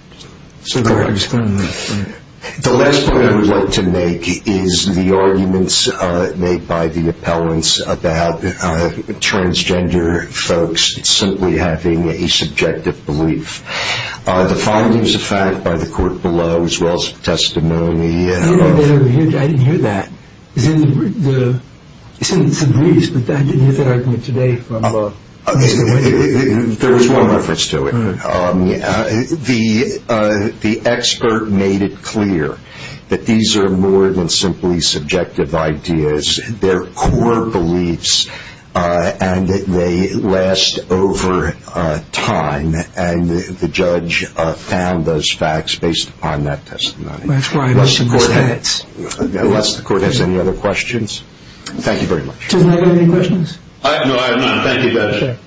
so they can spend money. The last point I would like to make is the arguments made by the appellants about transgender folks simply having a subjective belief. The following is a fact by the court below, as well as testimony. I didn't hear that. It's in the briefs, but that didn't hit the argument today. There was more to it. The expert made it clear that these are more than simply subjective ideas. They're core beliefs, and it may last over time. And the judge found those facts based upon that testimony. Unless the court has any other questions. Thank you very much. Do I have any questions? No, I have none. Thank you, guys.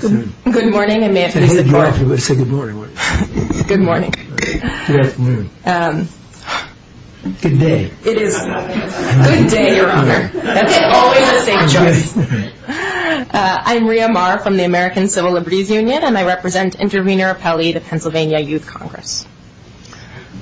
Good morning. Good morning. Good day. Good day. Always the same choice. I'm Maria Mar from the American Civil Liberties Union, and I represent Intervenor Appellee, the Pennsylvania Youth Congress.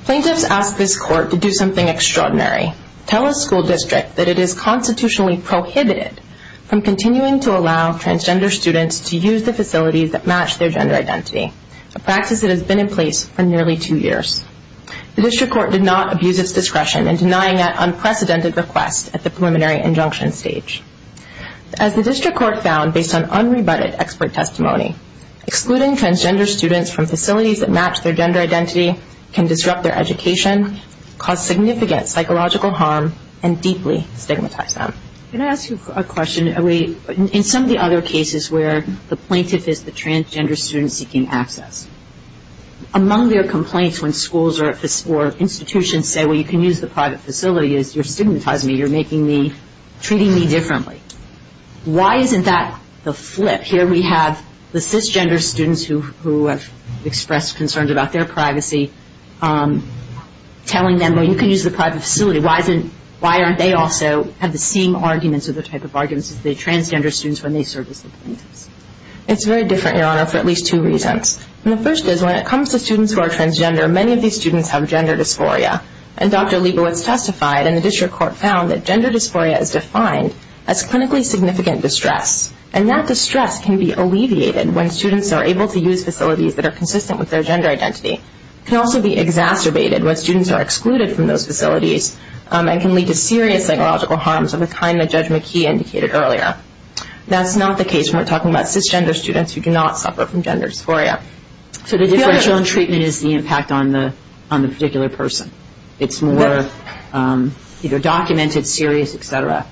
Plaintiffs ask this court to do something extraordinary, tell a school district that it is constitutionally prohibited from continuing to allow transgender students to use the facilities that match their gender identity, a practice that has been in place for nearly two years. The district court did not abuse its discretion in denying that unprecedented request at the preliminary injunction stage. As the district court found based on unrebutted expert testimony, excluding transgender students from facilities that match their gender identity can disrupt their education, cause significant psychological harm, and deeply stigmatize them. Can I ask you a question? In some of the other cases where the plaintiff is the transgender student seeking access, among their complaints when schools or institutions say, well, you can use the private facility, is you're stigmatizing me, you're treating me differently. Why isn't that the flip? Here we have the cisgender students who have expressed concerns about their privacy telling them, well, you can use the private facility. Why aren't they also having the same arguments or the same type of arguments as the transgender students when they serve at the facility? It's very different, Your Honor, for at least two reasons. The first is when it comes to students who are transgender, many of these students have gender dysphoria. And Dr. Lieber has testified in the district court found that gender dysphoria is defined as clinically significant distress. And that distress can be alleviated when students are able to use facilities that are consistent with their gender identity. It can also be exacerbated when students are excluded from those facilities and can lead to serious psychological harms of the kind that Judge McKee indicated earlier. That's not the case when we're talking about cisgender students who do not suffer from gender dysphoria. So the differential in treatment is the impact on the particular person. It's more, you know, documented, serious, et cetera.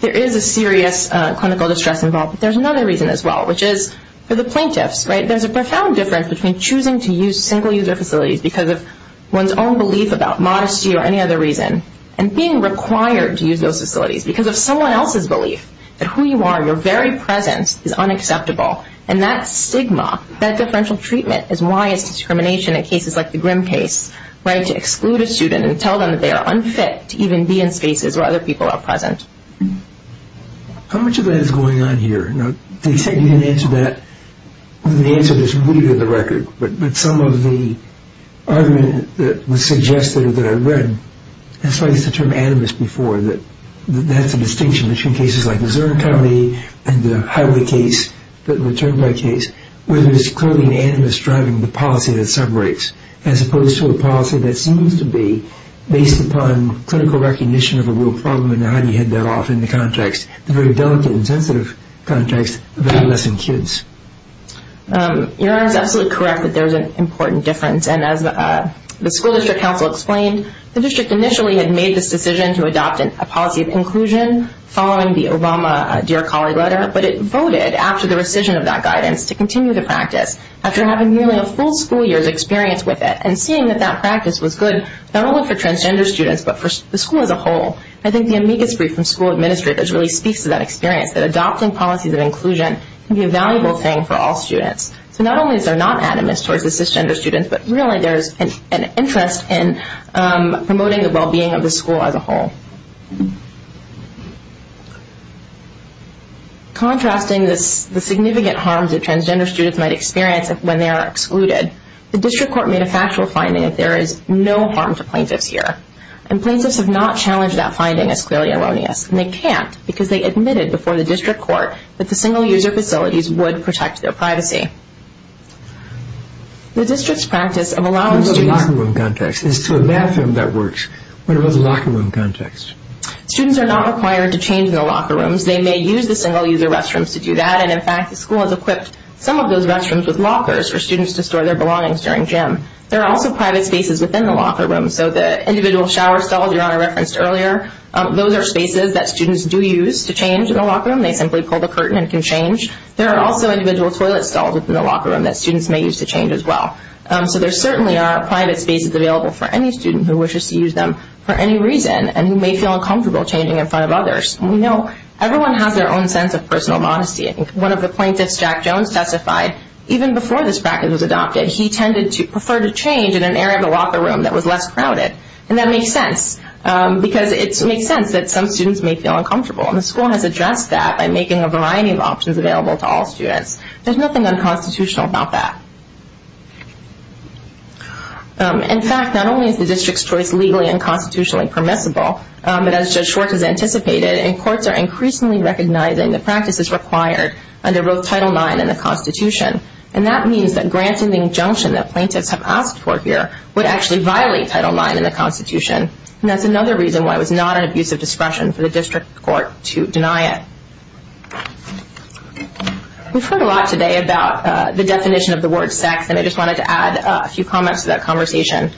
There is a serious clinical distress involved. There's another reason as well, which is for the plaintiffs, right? There's a profound difference between choosing to use single-user facilities because of one's own belief about modesty or any other reason and being required to use those facilities because of someone else's belief that who you are, your very presence is unacceptable. And that stigma, that differential treatment is why it's discrimination in cases like the Grimm case, right? To exclude a student and tell them that they are unfit to even be in spaces where other people are present. How much of that is going on here? Now, you said you didn't answer that. You didn't answer this completely to the record. But some of the argument that was suggested that I read, that's why I used the term animus before, that there's a distinction between cases like the Zurn County and the Hideaway case, the Turnbull case, where there's clearly an animus driving the policy that separates, as opposed to a policy that seems to be based upon clinical recognition of a real problem and how you head that off in the context, the very delicate and sensitive context of adolescent kids. You're absolutely correct that there's an important difference. And as the school district counsel explained, the district initially had made this decision to adopt a policy of inclusion following the Obama Dear Collar letter, but it voted after the rescission of that guidance to continue the practice after having nearly a full school year of experience with it and seeing that that practice was good not only for transgender students but for the school as a whole. I think the amicus brief from school administrators really speaks to that experience that adopting policies of inclusion can be a valuable thing for all students. So not only is there not an animus towards the cisgender students, but really there's an interest in promoting the well-being of the school as a whole. Contrasting the significant harms that transgender students might experience when they are excluded, the district court made a factual finding that there is no harm to plaintiffs here, and plaintiffs have not challenged that finding as clearly erroneous, and they can't because they admitted before the district court that the single-user facilities would protect their privacy. Students are not required to change in the locker rooms. They may use the single-user restrooms to do that, and in fact the school has equipped some of those restrooms with lockers for students to store their belongings during gym. There are also private spaces within the locker rooms, so the individual shower stalls Your Honor referenced earlier, those are spaces that students do use to change in the locker room. They simply pull the curtain and can change. There are also individual toilet stalls within the locker room that students may use to change as well. So there certainly are private spaces available for any student who wishes to use them for any reason and who may feel uncomfortable changing in front of others. We know everyone has their own sense of personal modesty. One of the plaintiffs, Jack Jones, testified even before this practice was adopted, he tended to prefer to change in an area of the locker room that was less crowded, and that makes sense because it makes sense that some students may feel uncomfortable, and the school has addressed that by making a variety of options available to all students. There's nothing unconstitutional about that. In fact, not only is the district's choice legally and constitutionally permissible, but as Judge Schwartz has anticipated, courts are increasingly recognizing that practice is required under both Title IX and the Constitution, and that means that granting the injunction that plaintiffs have asked for here would actually violate Title IX and the Constitution, and that's another reason why it was not an abuse of discretion for the district court to deny it. We've heard a lot today about the definition of the word sex, and I just wanted to add a few comments to that conversation.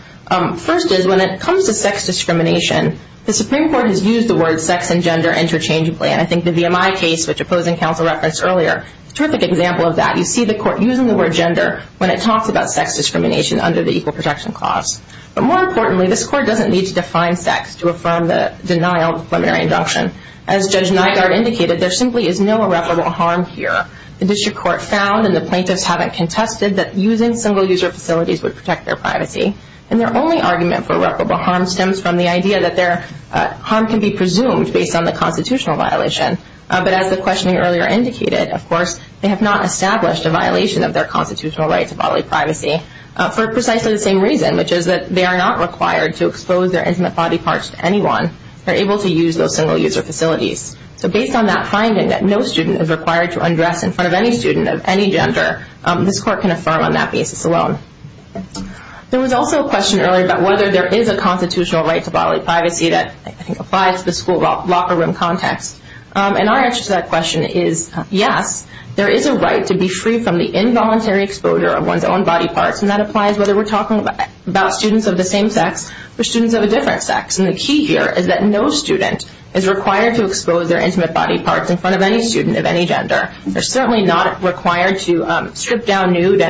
First is when it comes to sex discrimination, the Supreme Court has used the word sex and gender interchangeably, and I think the VMI case, which opposing counsel referenced earlier, is a terrific example of that. You see the court using the word gender when it talks about sex discrimination under the Equal Protection Clause. But more importantly, this court doesn't need to define sex to affirm the denial of plenary induction. As Judge Nygaard indicated, there simply is no irreparable harm here. The district court found, and the plaintiffs haven't contested, that using single-user facilities would protect their privacy, and their only argument for irreparable harm stems from the idea that their harm can be presumed based on the constitutional violation. But as the questioning earlier indicated, of course, they have not established a violation of their constitutional right to bodily privacy for precisely the same reason, which is that they are not required to expose their intimate body parts to anyone. They're able to use those single-user facilities. So based on that finding that no student is required to undress in front of any student of any gender, this court can affirm on that basis alone. There was also a question earlier about whether there is a constitutional right to bodily privacy that I think applies to the school locker room context, and our answer to that question is yes, there is a right to be free from the involuntary exposure of one's own body parts, and that applies whether we're talking about students of the same sex or students of a different sex. The key here is that no student is required to expose their intimate body parts in front of any student of any gender. They're certainly not required to strip down nude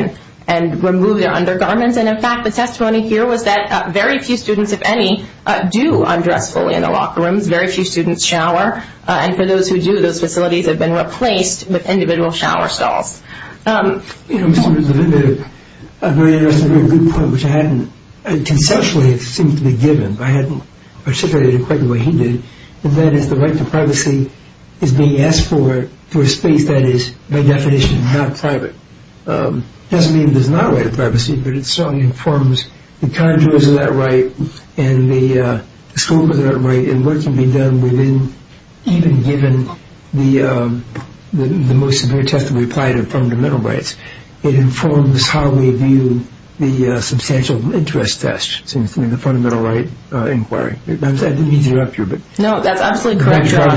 and remove their undergarments. In fact, the testimony here was that very few students, if any, do undress fully in the locker room. Very few students shower. And for those who do, those facilities have been replaced with individual shower stalls. I'm going to address a very good point, which I hadn't contextually or extensively given. I hadn't articulated it quite the way he did, and that is the right to privacy is being asked for to a state that is, by definition, not private. It doesn't mean there's not a right to privacy, but it certainly informs the conduits of that right and the scope of that right and what can be done even given the most severe test that we apply to fundamental rights. It informs how we view the substantial interest test in the fundamental right inquiry. I'm sorry to interrupt you. No, that's absolutely correct, Your Honor.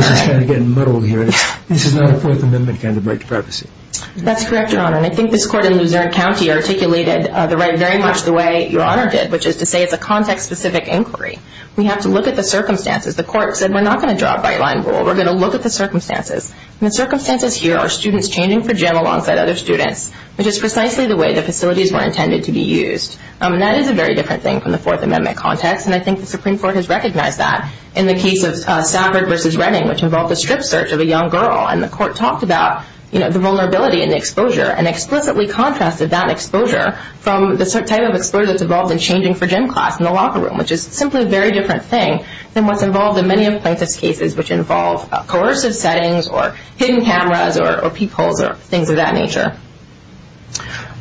This is not a Fourth Amendment kind of right to privacy. That's correct, Your Honor. And I think this court in Luzerne County articulated the right very much the way Your Honor did, which is to say it's a context-specific inquiry. We have to look at the circumstances. The court said we're not going to draw a white-line rule. We're going to look at the circumstances, and the circumstances here are students changing for gym alongside other students, which is precisely the way the facilities were intended to be used. That is a very different thing from the Fourth Amendment context, and I think the Supreme Court has recognized that in the case of Stafford v. Redding, which involved a strip search of a young girl, and the court talks about the vulnerability and the exposure and explicitly contrasted that exposure from the type of exposure that's involved in changing for gym class in the locker room, which is simply a very different thing than what's involved in many of the plaintiff's cases, which involves coercive settings or hidden cameras or peepholes or things of that nature.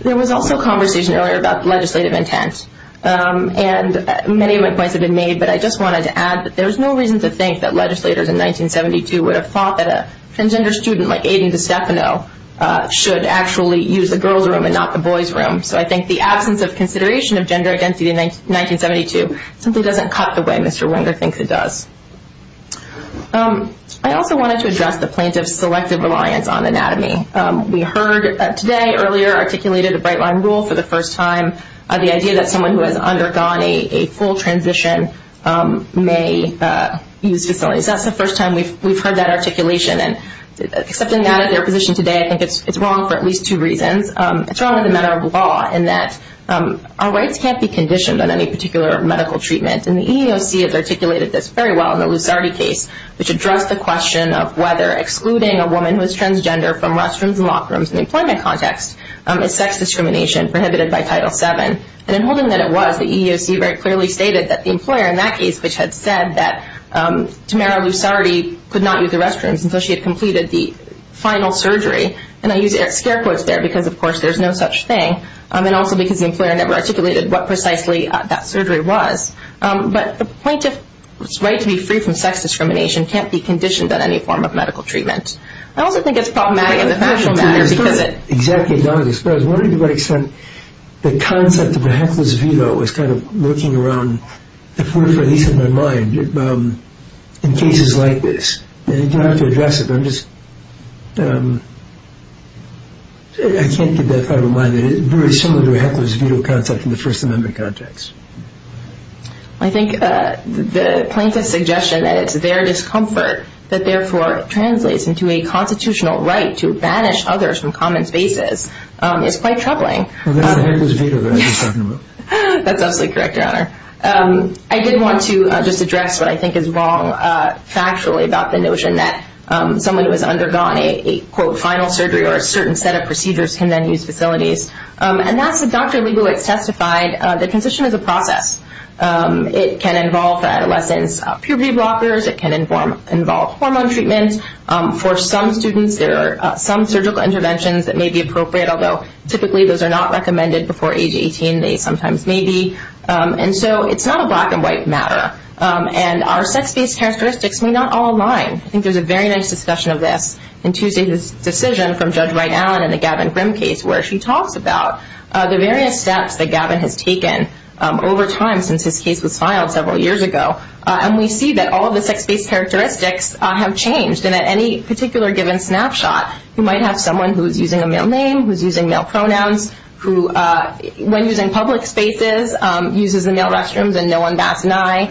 There was also a conversation earlier about legislative intent, and many of the points have been made, but I just wanted to add that there's no reason to think that legislators in 1972 would have thought that a transgender student like Aiden DiStefano should actually use the girls' room and not the boys' room. So I think the absence of consideration of gender identity in 1972 simply doesn't cut the way Mr. Wenger thinks it does. I also wanted to address the plaintiff's selective reliance on anatomy. We heard today, earlier, articulated the Bright Line Rule for the first time, the idea that someone who has undergone a full transition may use disabilities. That's the first time we've heard that articulation, and accepting that as their position today, I think it's wrong for at least two reasons. It's wrong as a matter of law in that our rights can't be conditioned on any particular medical treatment, and the EEOC has articulated this very well in the Lusardi case, which addressed the question of whether excluding a woman who is transgender from restrooms and lock rooms in an employment context is sex discrimination prohibited by Title VII. And in holding that it was, the EEOC very clearly stated that the employer in that case, which had said that Tamara Lusardi could not use the restrooms until she had completed the final surgery, and I use Eric's hair quotes there because, of course, there's no such thing, and also because the employer never articulated what precisely that surgery was. But the plaintiff's right to be free from sex discrimination can't be conditioned on any form of medical treatment. I also think it's problematic in the social matter because it's... I was wondering to what extent the concept of a heckler's veto is kind of lurking around, at least in my mind, in cases like this. You don't have to address it, but I'm just... I can't keep that thought in mind. It's very similar to the heckler's veto concept in the first amendment context. I think the plaintiff's suggestion that it's their discomfort that therefore translates into a constitutional right to banish others from common spaces is quite troubling. Well, not a heckler's veto that I'm just talking about. That's absolutely correct, Your Honor. I did want to just address what I think is wrong factually about the notion that someone who has undergone a, quote, final surgery or a certain set of procedures can then use facilities. And that's what Dr. Leibowitz testified. The condition is a process. It can involve the adolescent's puberty blockers. It can involve hormone treatment. For some students, there are some surgical interventions that may be appropriate, although typically those are not recommended before age 18. They sometimes may be. And so it's not a black-and-white matter. And our sex-based characteristics may not all align. I think there's a very nice discussion of this in Tuesday's decision from Judge Wright-Allen in the Gavin Grimm case where she talked about the various steps that Gavin has taken over time since his case was filed several years ago. And we see that all of the sex-based characteristics have changed. And at any particular given snapshot, you might have someone who's using a male name, who's using male pronouns, who, when he's in public spaces, uses the male restrooms and no one backs an eye,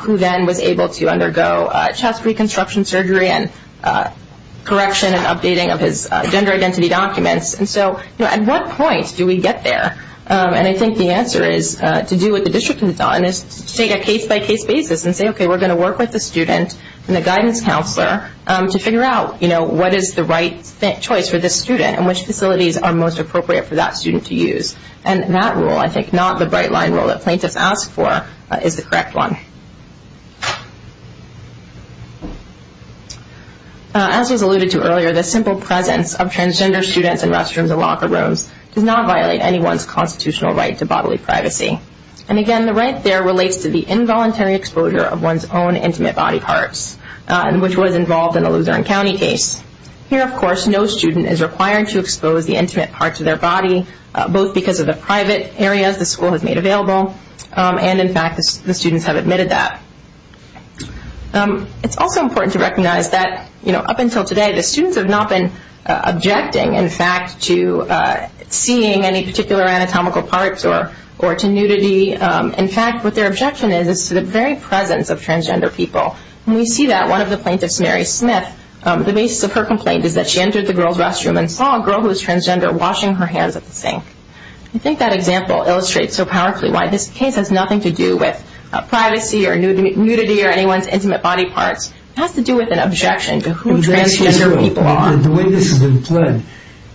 who then was able to undergo chest reconstruction surgery and correction and updating of his gender identity documents. And so, you know, at what point do we get there? And I think the answer is to do what the district has done, is take a case-by-case basis and say, okay, we're going to work with the students and the guidance counselor to figure out, you know, what is the right choice for this student and which facilities are most appropriate for that student to use. And that rule, I think, not the bright-line rule that plaintiffs asked for, is the correct one. As was alluded to earlier, the simple presence of transgender students in restrooms and locker rooms does not violate anyone's constitutional right to bodily privacy. And, again, the right there relates to the involuntary exposure of one's own intimate body parts, which was involved in the Lutheran County case. Here, of course, no student is required to expose the intimate parts of their body, both because of the private areas the school has made available and, in fact, the students have admitted that. It's also important to recognize that, you know, up until today, the students have not been objecting, in fact, to seeing any particular anatomical parts or to nudity. In fact, what their objection is is to the very presence of transgender people. And we see that. One of the plaintiffs, Mary Smith, the basis of her complaint is that she entered the girl's restroom and saw a girl who was transgender washing her hands of the sink. I think that example illustrates so powerfully why this case has nothing to do with privacy or nudity or anyone's intimate body parts. It has to do with an objection to who transgender people are. And the way this has been played,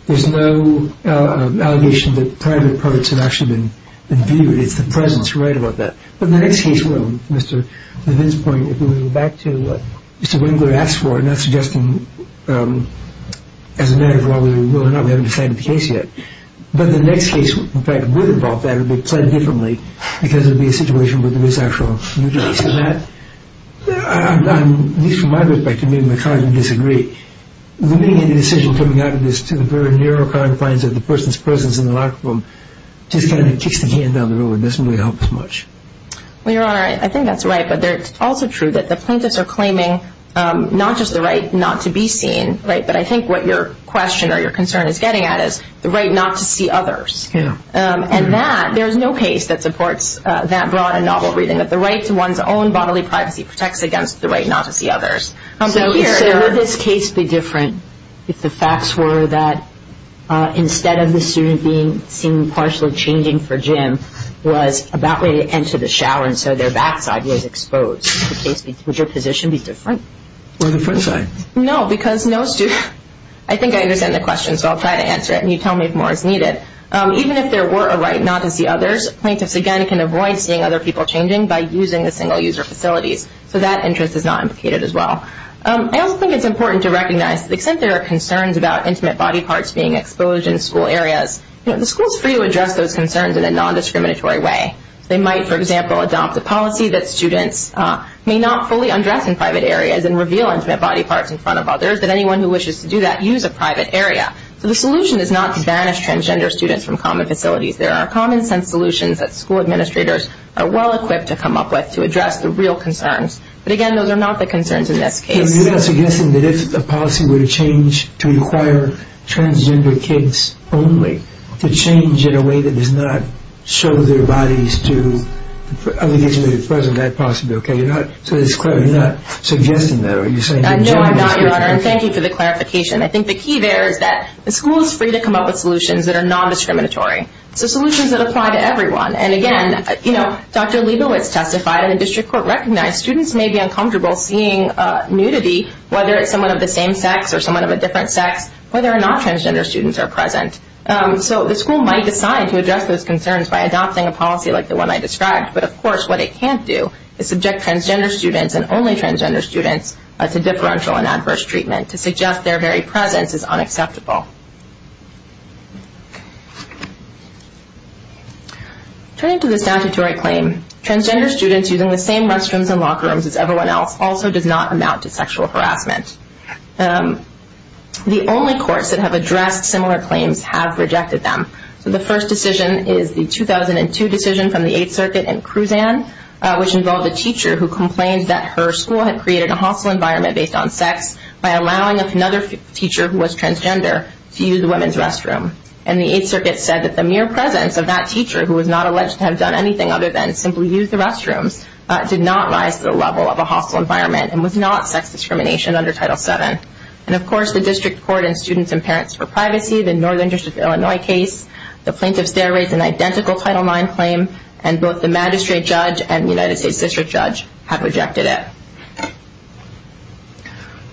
there's no allegation that private parts have actually been viewed. It's the presence. You're right about that. But the next case will, Mr. Levin's point, if we were to go back to what Mr. Levin would have asked for, I'm not suggesting, as a matter of law, whether we will or not. We haven't decided the case yet. But the next case, in fact, would involve that. It would be played differently because it would be a situation where there is actual nudity. So that, at least from my perspective, I kind of disagree. The decision coming out of this to the very narrow confines of the person's presence in the locker room just kind of kicks the hand down the road. It doesn't really help as much. Well, you're right. I think that's right. But it's also true that the plaintiffs are claiming not just the right not to be seen, but I think what your question or your concern is getting at is the right not to see others. And that, there's no case that supports that broad and novel reading. But the right to one's own bodily privacy protects against the right not to see others. So here, would this case be different if the facts were that, instead of the student being seen partially changing for gym, was about ready to enter the shower and so their bathtub is exposed? Would your position be different? No, because no student. I think I understand the question, so I'll try to answer it. And you tell me more if needed. Even if there were a right not to see others, plaintiffs, again, can avoid seeing other people changing by using the single-user facilities. So that interest is not implicated as well. I also think it's important to recognize, because there are concerns about intimate body parts being exposed in school areas, the school is free to address those concerns in a non-discriminatory way. They might, for example, adopt the policy that students may not fully undress in private areas and reveal intimate body parts in front of others, and anyone who wishes to do that use a private area. So the solution is not to banish transgender students from common facilities. There are common-sense solutions that school administrators are well-equipped to come up with to address the real concerns. But again, those are not the concerns in this case. So you're not suggesting that if the policy were to change to require transgender kids only, to change in a way that does not show their bodies to other people who are present, is that possible? You're not suggesting that, are you saying? No, I'm not. Thank you for the clarification. I think the key there is that the school is free to come up with solutions that are non-determinatory, the solutions that apply to everyone. And again, you know, Dr. Lieber has testified, and the district court recognized students may be uncomfortable seeing nudity, whether it's someone of the same sex or someone of a different sex, whether or not transgender students are present. So the school might decide to address those concerns by adopting a policy like the one I described, but of course what it can't do is subject transgender students and only transgender students to differential and adverse treatment to suggest their very presence is unacceptable. Turning to the statutory claim, transgender students using the same restrooms and locker rooms as everyone else also did not amount to sexual harassment. The only courts that have addressed similar claims have rejected them. The first decision is the 2002 decision from the Eighth Circuit in Kruzan, which involved a teacher who complained that her school had created a hostile environment based on sex by allowing another teacher who was transgender to use the women's restroom. And the Eighth Circuit said that the mere presence of that teacher, who was not alleged to have done anything other than simply use the restroom, did not rise to the level of a hostile environment and was not sex discrimination under Title VII. And of course the district court and Students and Parents for Privacy, the Northern District of Illinois case, the plaintiffs there raised an identical Title IX claim, and both the magistrate judge and the United States district judge have rejected it.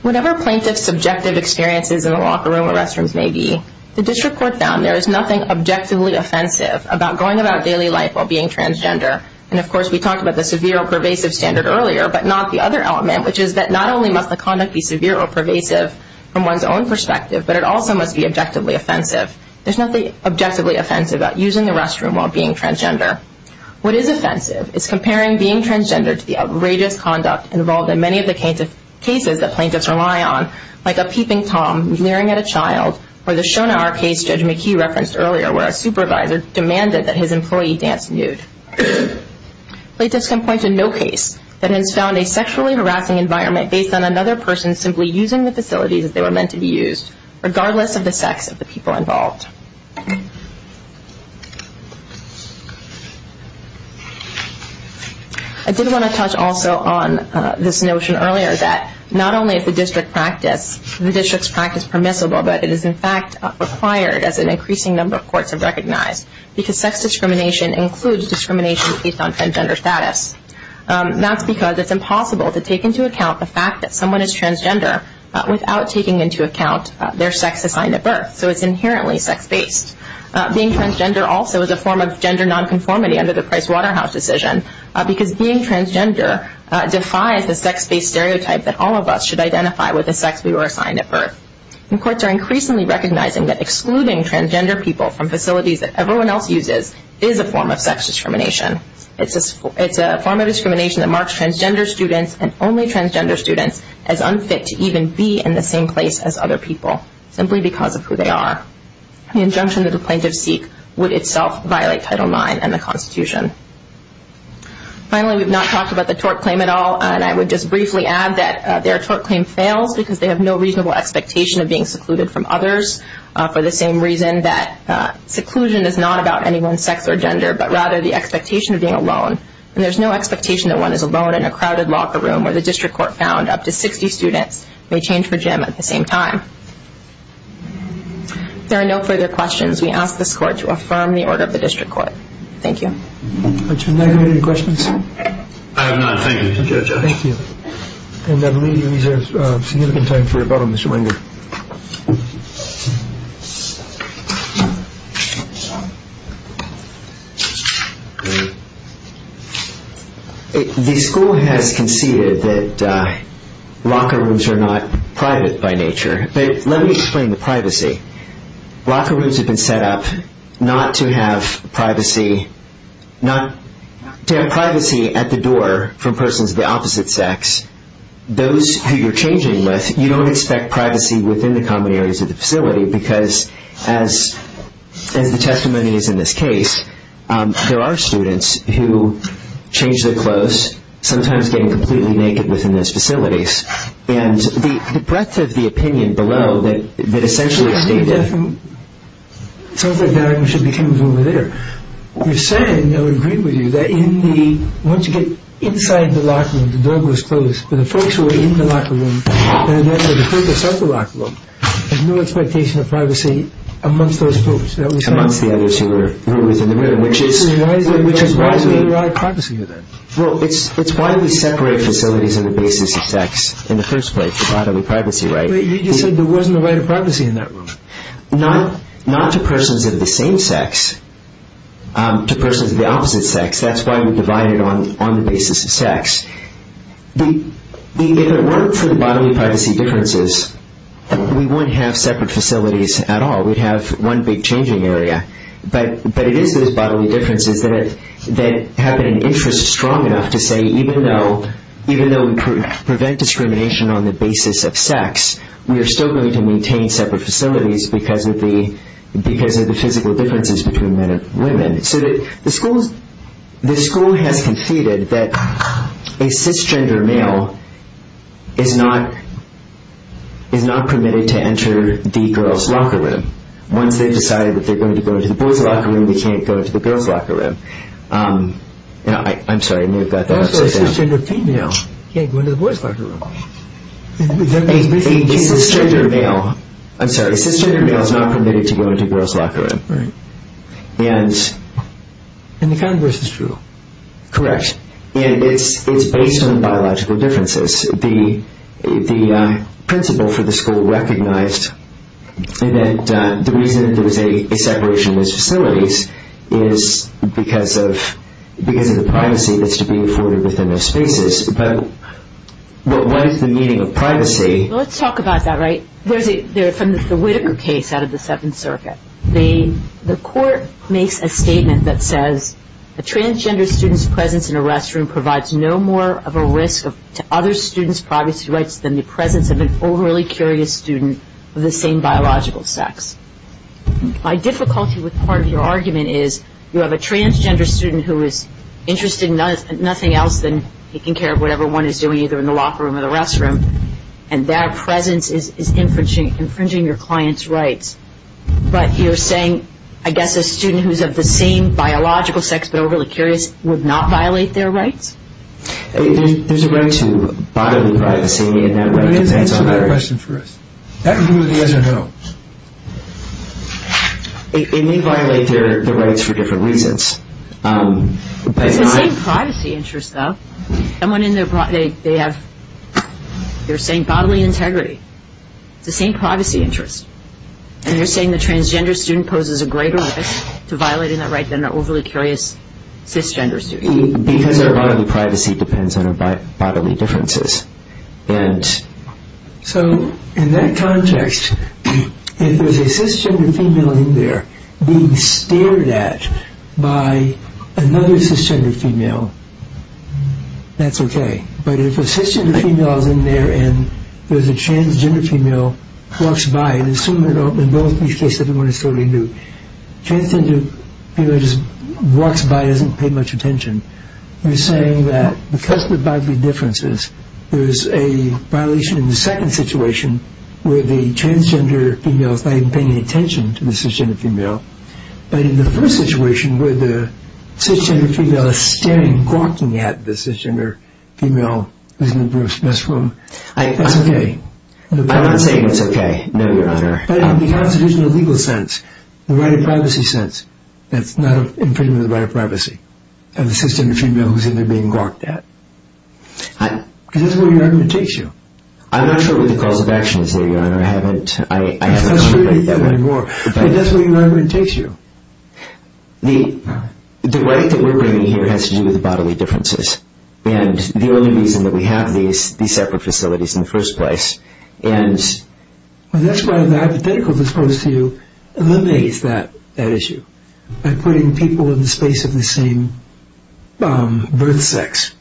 Whatever plaintiffs' subjective experiences in the locker room or restrooms may be, the district court found there is nothing objectively offensive about going about daily life while being transgender. And of course we talked about the severe or pervasive standard earlier, but not the other element, which is that not only must the conduct be severe or pervasive from one's own perspective, but it also must be objectively offensive. There's nothing objectively offensive about using the restroom while being transgender. What is offensive is comparing being transgender to the outrageous conduct involved in many of the cases that plaintiffs rely on, like a peeping Tom glaring at a child, or the Shona Arcade's Judge McKee reference earlier where a supervisor demanded that his employee dance nude. Plaintiffs can point to no case that has found a sexually harassing environment based on another person simply using the facilities that they were meant to be used, regardless of the sex of the people involved. I did want to touch also on this notion earlier that not only is the district's practice permissible, but it is in fact required as an increasing number of courts have recognized, because sex discrimination includes discrimination based on transgender status. That's because it's impossible to take into account the fact that someone is transgender without taking into account their sex assigned at birth. So it's inherently sex-based. Being transgender also is a form of gender nonconformity under the Price-Waterhouse decision, because being transgender defies a sex-based stereotype that all of us should identify with the sex we were assigned at birth. Courts are increasingly recognizing that excluding transgender people from facilities that everyone else uses is a form of sex discrimination. It's a form of discrimination that marks transgender students and only transgender students as unfit to even be in the same place as other people, simply because of who they are. The injunction that a plaintiff seeks would itself violate Title IX and the Constitution. Finally, we've not talked about the tort claim at all, and I would just briefly add that there are tort claims failed because they have no reasonable expectation of being secluded from others, for the same reason that seclusion is not about anyone's sex or gender, but rather the expectation of being alone. And there's no expectation that one is alone in a crowded locker room, where the district court found up to 60 students may change for Jim at the same time. If there are no further questions, we ask this Court to affirm the order of the district court. Thank you. The school has conceded that locker rooms are not private by nature. But let me explain the privacy. Locker rooms have been set up not to have privacy at the door from persons of the opposite sex. Those who you're changing with, you don't expect privacy within the common areas of the facility, because as the testimony is in this case, there are students who change their clothes, sometimes getting completely naked within those facilities. And that says the opinion below that essentially states that. I think that's something that should be considered over there. We said, and I would agree with you, that once you get inside the locker room, the door was closed, but the folks who were in the locker room, and then the folks outside the locker room, there's no expectation of privacy amongst those folks. There's a lot of privacy in there. Well, it's why we separate facilities on the basis of sex in the first place, the bodily privacy right. But you said there wasn't a right of privacy in that room. Not to persons of the same sex. To persons of the opposite sex. That's why we divide it on the basis of sex. If it weren't for the bodily privacy differences, we wouldn't have separate facilities at all. We'd have one big changing area. But it is those bodily differences that have an interest strong enough to say, even though we prevent discrimination on the basis of sex, we are still going to maintain separate facilities because of the physical differences between men and women. So the school has succeeded that a cisgender male is not permitted to enter the girls' locker room. Once they've decided if they're going to go into the boys' locker room, they can't go into the girls' locker room. I'm sorry, I moved that. A cisgender female can't go into the boys' locker room. A cisgender male is not permitted to go into the girls' locker room. And the converse is true. Correct. And it's based on biological differences. The principal for the school recognized that the reason there was a separation of facilities is because of the privacy that's to be afforded within those spaces. But what was the meaning of privacy? Let's talk about that, right? There's a Whitaker case out of the Seventh Circuit. The court makes a statement that says, A transgender student's presence in a restroom provides no more of a risk to other students' privacy rights than the presence of an overly curious student of the same biological sex. My difficulty with part of your argument is you have a transgender student who is interested in nothing else than taking care of whatever one is doing, either in the locker room or the restroom, and that presence is infringing your client's rights. But you're saying, I guess, a student who's of the same biological sex but overly curious would not violate their rights? There's a right to bodily privacy. Let me answer that question first. That includes the other health. It may violate the rights for different reasons. There's the same privacy interest, though. Someone in their body, they have the same bodily integrity, the same privacy interest, and you're saying the transgender student poses a greater risk to violating that right than an overly curious cisgender student. Because their right to privacy depends on their bodily differences. And so, in that context, if there's a cisgender female in there being stared at by another cisgender female, that's okay. But if a cisgender female is in there and there's a transgender female walks by, and in both these cases, everyone is totally nude, the transgender female just walks by and doesn't pay much attention, you're saying that because of the bodily differences, there's a violation in the second situation where the transgender female is not even paying any attention to the cisgender female, but in the first situation where the cisgender female is staring, and walking at the cisgender female who's in the first room, that's okay. I don't think it's okay, no, Your Honor. But in the constitutional legal sense, the right of privacy sense, that's not a infringement of the right of privacy, of the cisgender female who's in there being walked at. Because that's where your argument takes you. I'm not sure what the cause of action is here, Your Honor. I haven't... I don't think that anymore. But that's where your argument takes you. The right that we're bringing here has to do with bodily differences, and the only reason that we have these separate facilities in the first place, and... That's why the hypothetical that's posed to you eliminates that issue, by putting people in the space of the same birth sex.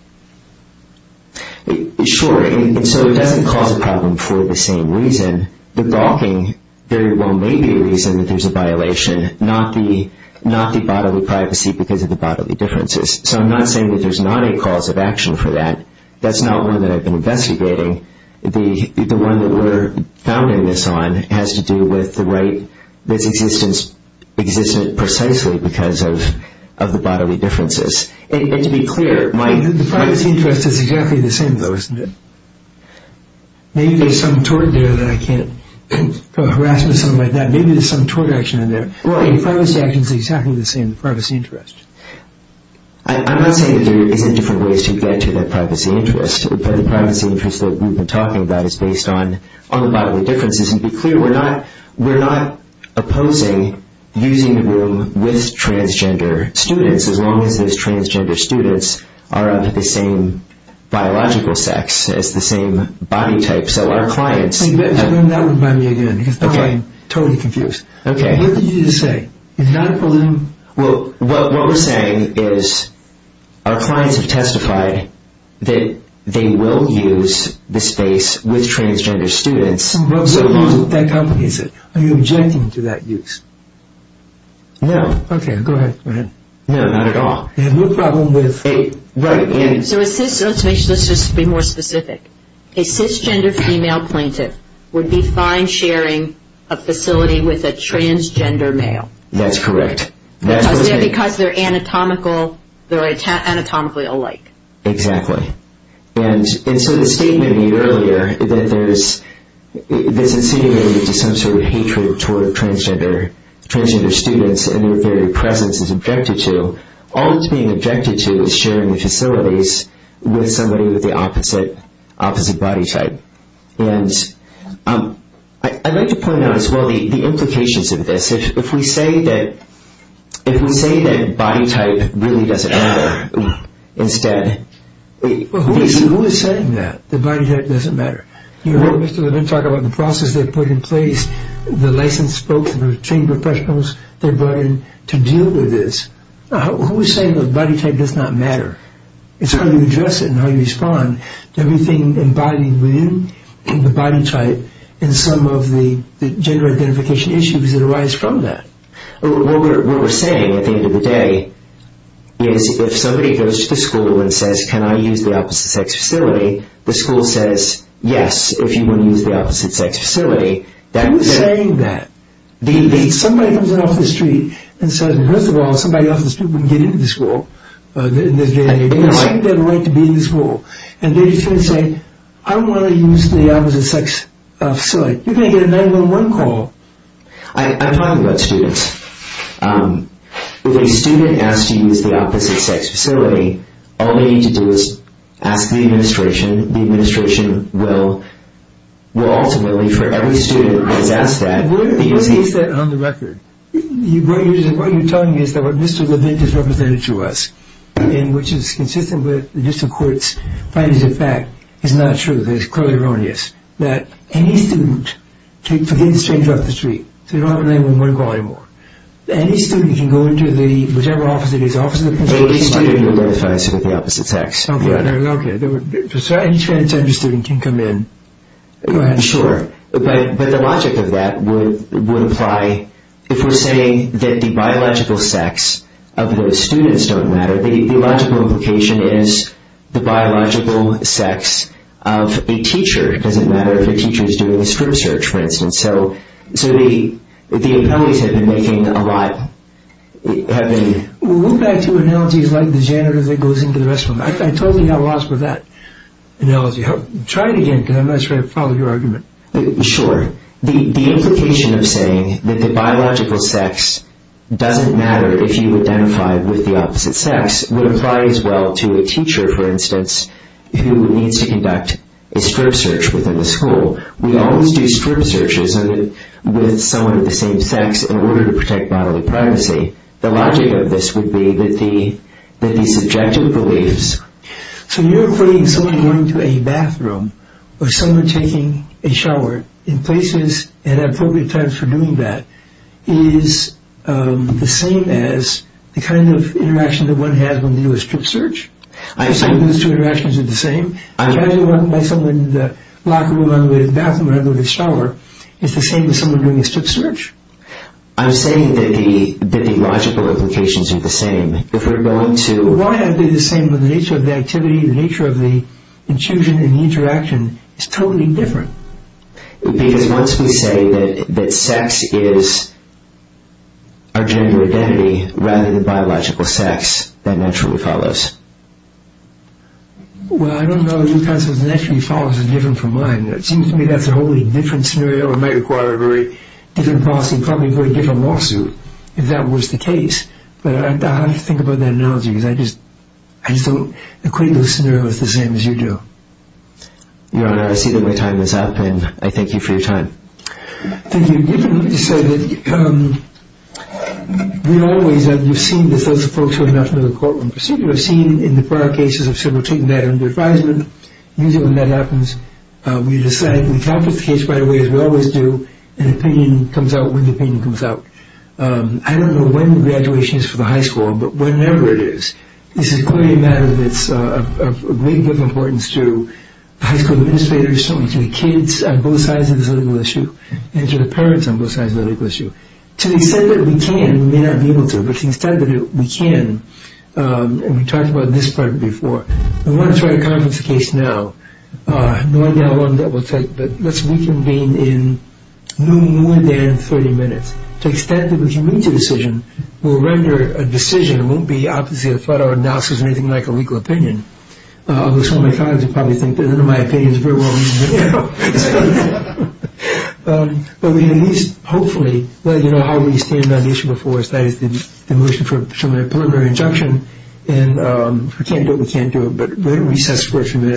Sure, and so it doesn't cause a problem for the same reason. The walking very well may be a reason that there's a violation, not the bodily privacy because of the bodily differences. So I'm not saying that there's not a cause of action for that. That's not one that I've been investigating. The one that we're founding this on has to do with the right that's existed precisely because of the bodily differences. And to be clear, my... The privacy interest is exactly the same though, isn't it? Maybe there's some tort there that I can't go harass with someone like that. Maybe there's some tort action in there. Well, the privacy action is exactly the same as the privacy interest. I'm not saying that there are different ways to get to that privacy interest, but the privacy interest that we've been talking about is based on the bodily differences. And to be clear, we're not opposing using the room with transgender students, as long as those transgender students are of the same biological sex, it's the same body type, so our clients... That would buy me again because now I'm totally confused. Okay. What did you just say? It's not opposing... Well, what we're saying is our clients have testified that they will use the space with transgender students. Well, so who is it? That company is it? Are you objecting to that use? No. Okay, go ahead. No, not at all. Yeah, no problem with... Right, and... So it's his... Let me just be more specific. A cisgender female plaintiff would be fine sharing a facility with a transgender male. That's correct. Because they're anatomically alike. Exactly. And so the statement you heard earlier, that there's a feeling of some sort of hatred toward transgender students and their presence is objected to, all that's being objected to is sharing the facilities with somebody with the opposite body type. And I'd like to point out as well the implications of this. If we say that body type really doesn't matter, instead... Wait, who is saying that the body type doesn't matter? You heard Mr. Levin talk about the process they've put in place, the licensed spokesmen, the trained professionals they've hired to deal with this. Who is saying that body type does not matter? It's how you address it and how you respond to everything involving women and the body type and some of the gender identification issues that arise from that. What we're saying at the end of the day is if somebody goes to the school and says, can I use the opposite sex facility, the school says, yes, if you want to use the opposite sex facility, who is saying that? If somebody comes in off the street and says, first of all, somebody off the street wouldn't be in the school, they don't have the right to be in the school, and they just say, I don't want to use the opposite sex facility, you're going to get a 911 call. I'm talking about students. If a student asks to use the opposite sex facility, all they need to do is ask the administration. The administration will ultimately, for every student who has asked that, What you're telling me is that what Mr. Levin just represented to us, which is consistent with the District Court's findings of fact, is not true. There's pros and cons to this. Any student, forget the stranger off the street, they don't have a 911 call anymore. Any student can go into whichever office it is, the office of the principal, I didn't identify myself with the opposite sex. Okay, so any transgender student can come in. Sure, but the logic of that would apply, if we're saying that the biological sex of the students don't matter, the logical implication is the biological sex of a teacher doesn't matter, if a teacher is doing a strip search, for instance. So the appellees have been making a lot, We'll go back to analogies like the gender that goes into the rest of them. I totally got lost with that analogy. Try it again, because I'm not sure I follow your argument. Sure. The implication of saying that the biological sex doesn't matter if you identify with the opposite sex would apply as well to a teacher, for instance, who needs to conduct a strip search within the school. We always do strip searches with some of the same sex in order to protect bodily privacy. The logic of this would be that the subjective beliefs... So you're putting someone going to a bathroom or someone taking a shower in places at appropriate times for doing that is the same as the kind of interaction that one has when we do a strip search? I assume those two interactions are the same? I imagine that someone in the locker room or the bathroom or the shower is the same as someone doing a strip search. I'm saying that the logical implications are the same. Why are they the same when the nature of the activity, the nature of the intrusion and the interaction is totally different? Because once we say that sex is our gender identity rather than biological sex, that naturally follows. Well, I don't know if naturally follows is different from mine. It seems to me that's a wholly different scenario. It might require a very different policy, probably a very different lawsuit if that was the case. But I have to think about that analogy because I just equate those scenarios the same as you do. Your Honor, I see that my time is up and I thank you for your time. Thank you. You said that we always have seen that those folks have nothing to do with a court-run procedure. We've seen in the prior cases of civil treatment that are under advisement. Usually when that happens, we decide and we calculate the case right away as we always do, and an opinion comes out when the opinion comes out. I don't know when the graduation is for the high school, but whenever it is, this is quite a matter that's of great importance to high school administrators, to kids on both sides of this legal issue, and to the parents on both sides of the legal issue. To the extent that we can, we may not be able to. But to the extent that we can, and we talked about this part before, I want to try to comment on the case now. No one down on that website, but let's reconvene in no more than 30 minutes. To the extent that we can reach a decision, we'll render a decision. It won't be obviously a thorough analysis or anything like a legal opinion, although some of my colleagues will probably think that my opinion is very wrong. But we can at least, hopefully, let you know how we stand on the issue before us, that is, the motion for preliminary injunction, and if we can't do it, we can't do it. But we can at least have a split from this.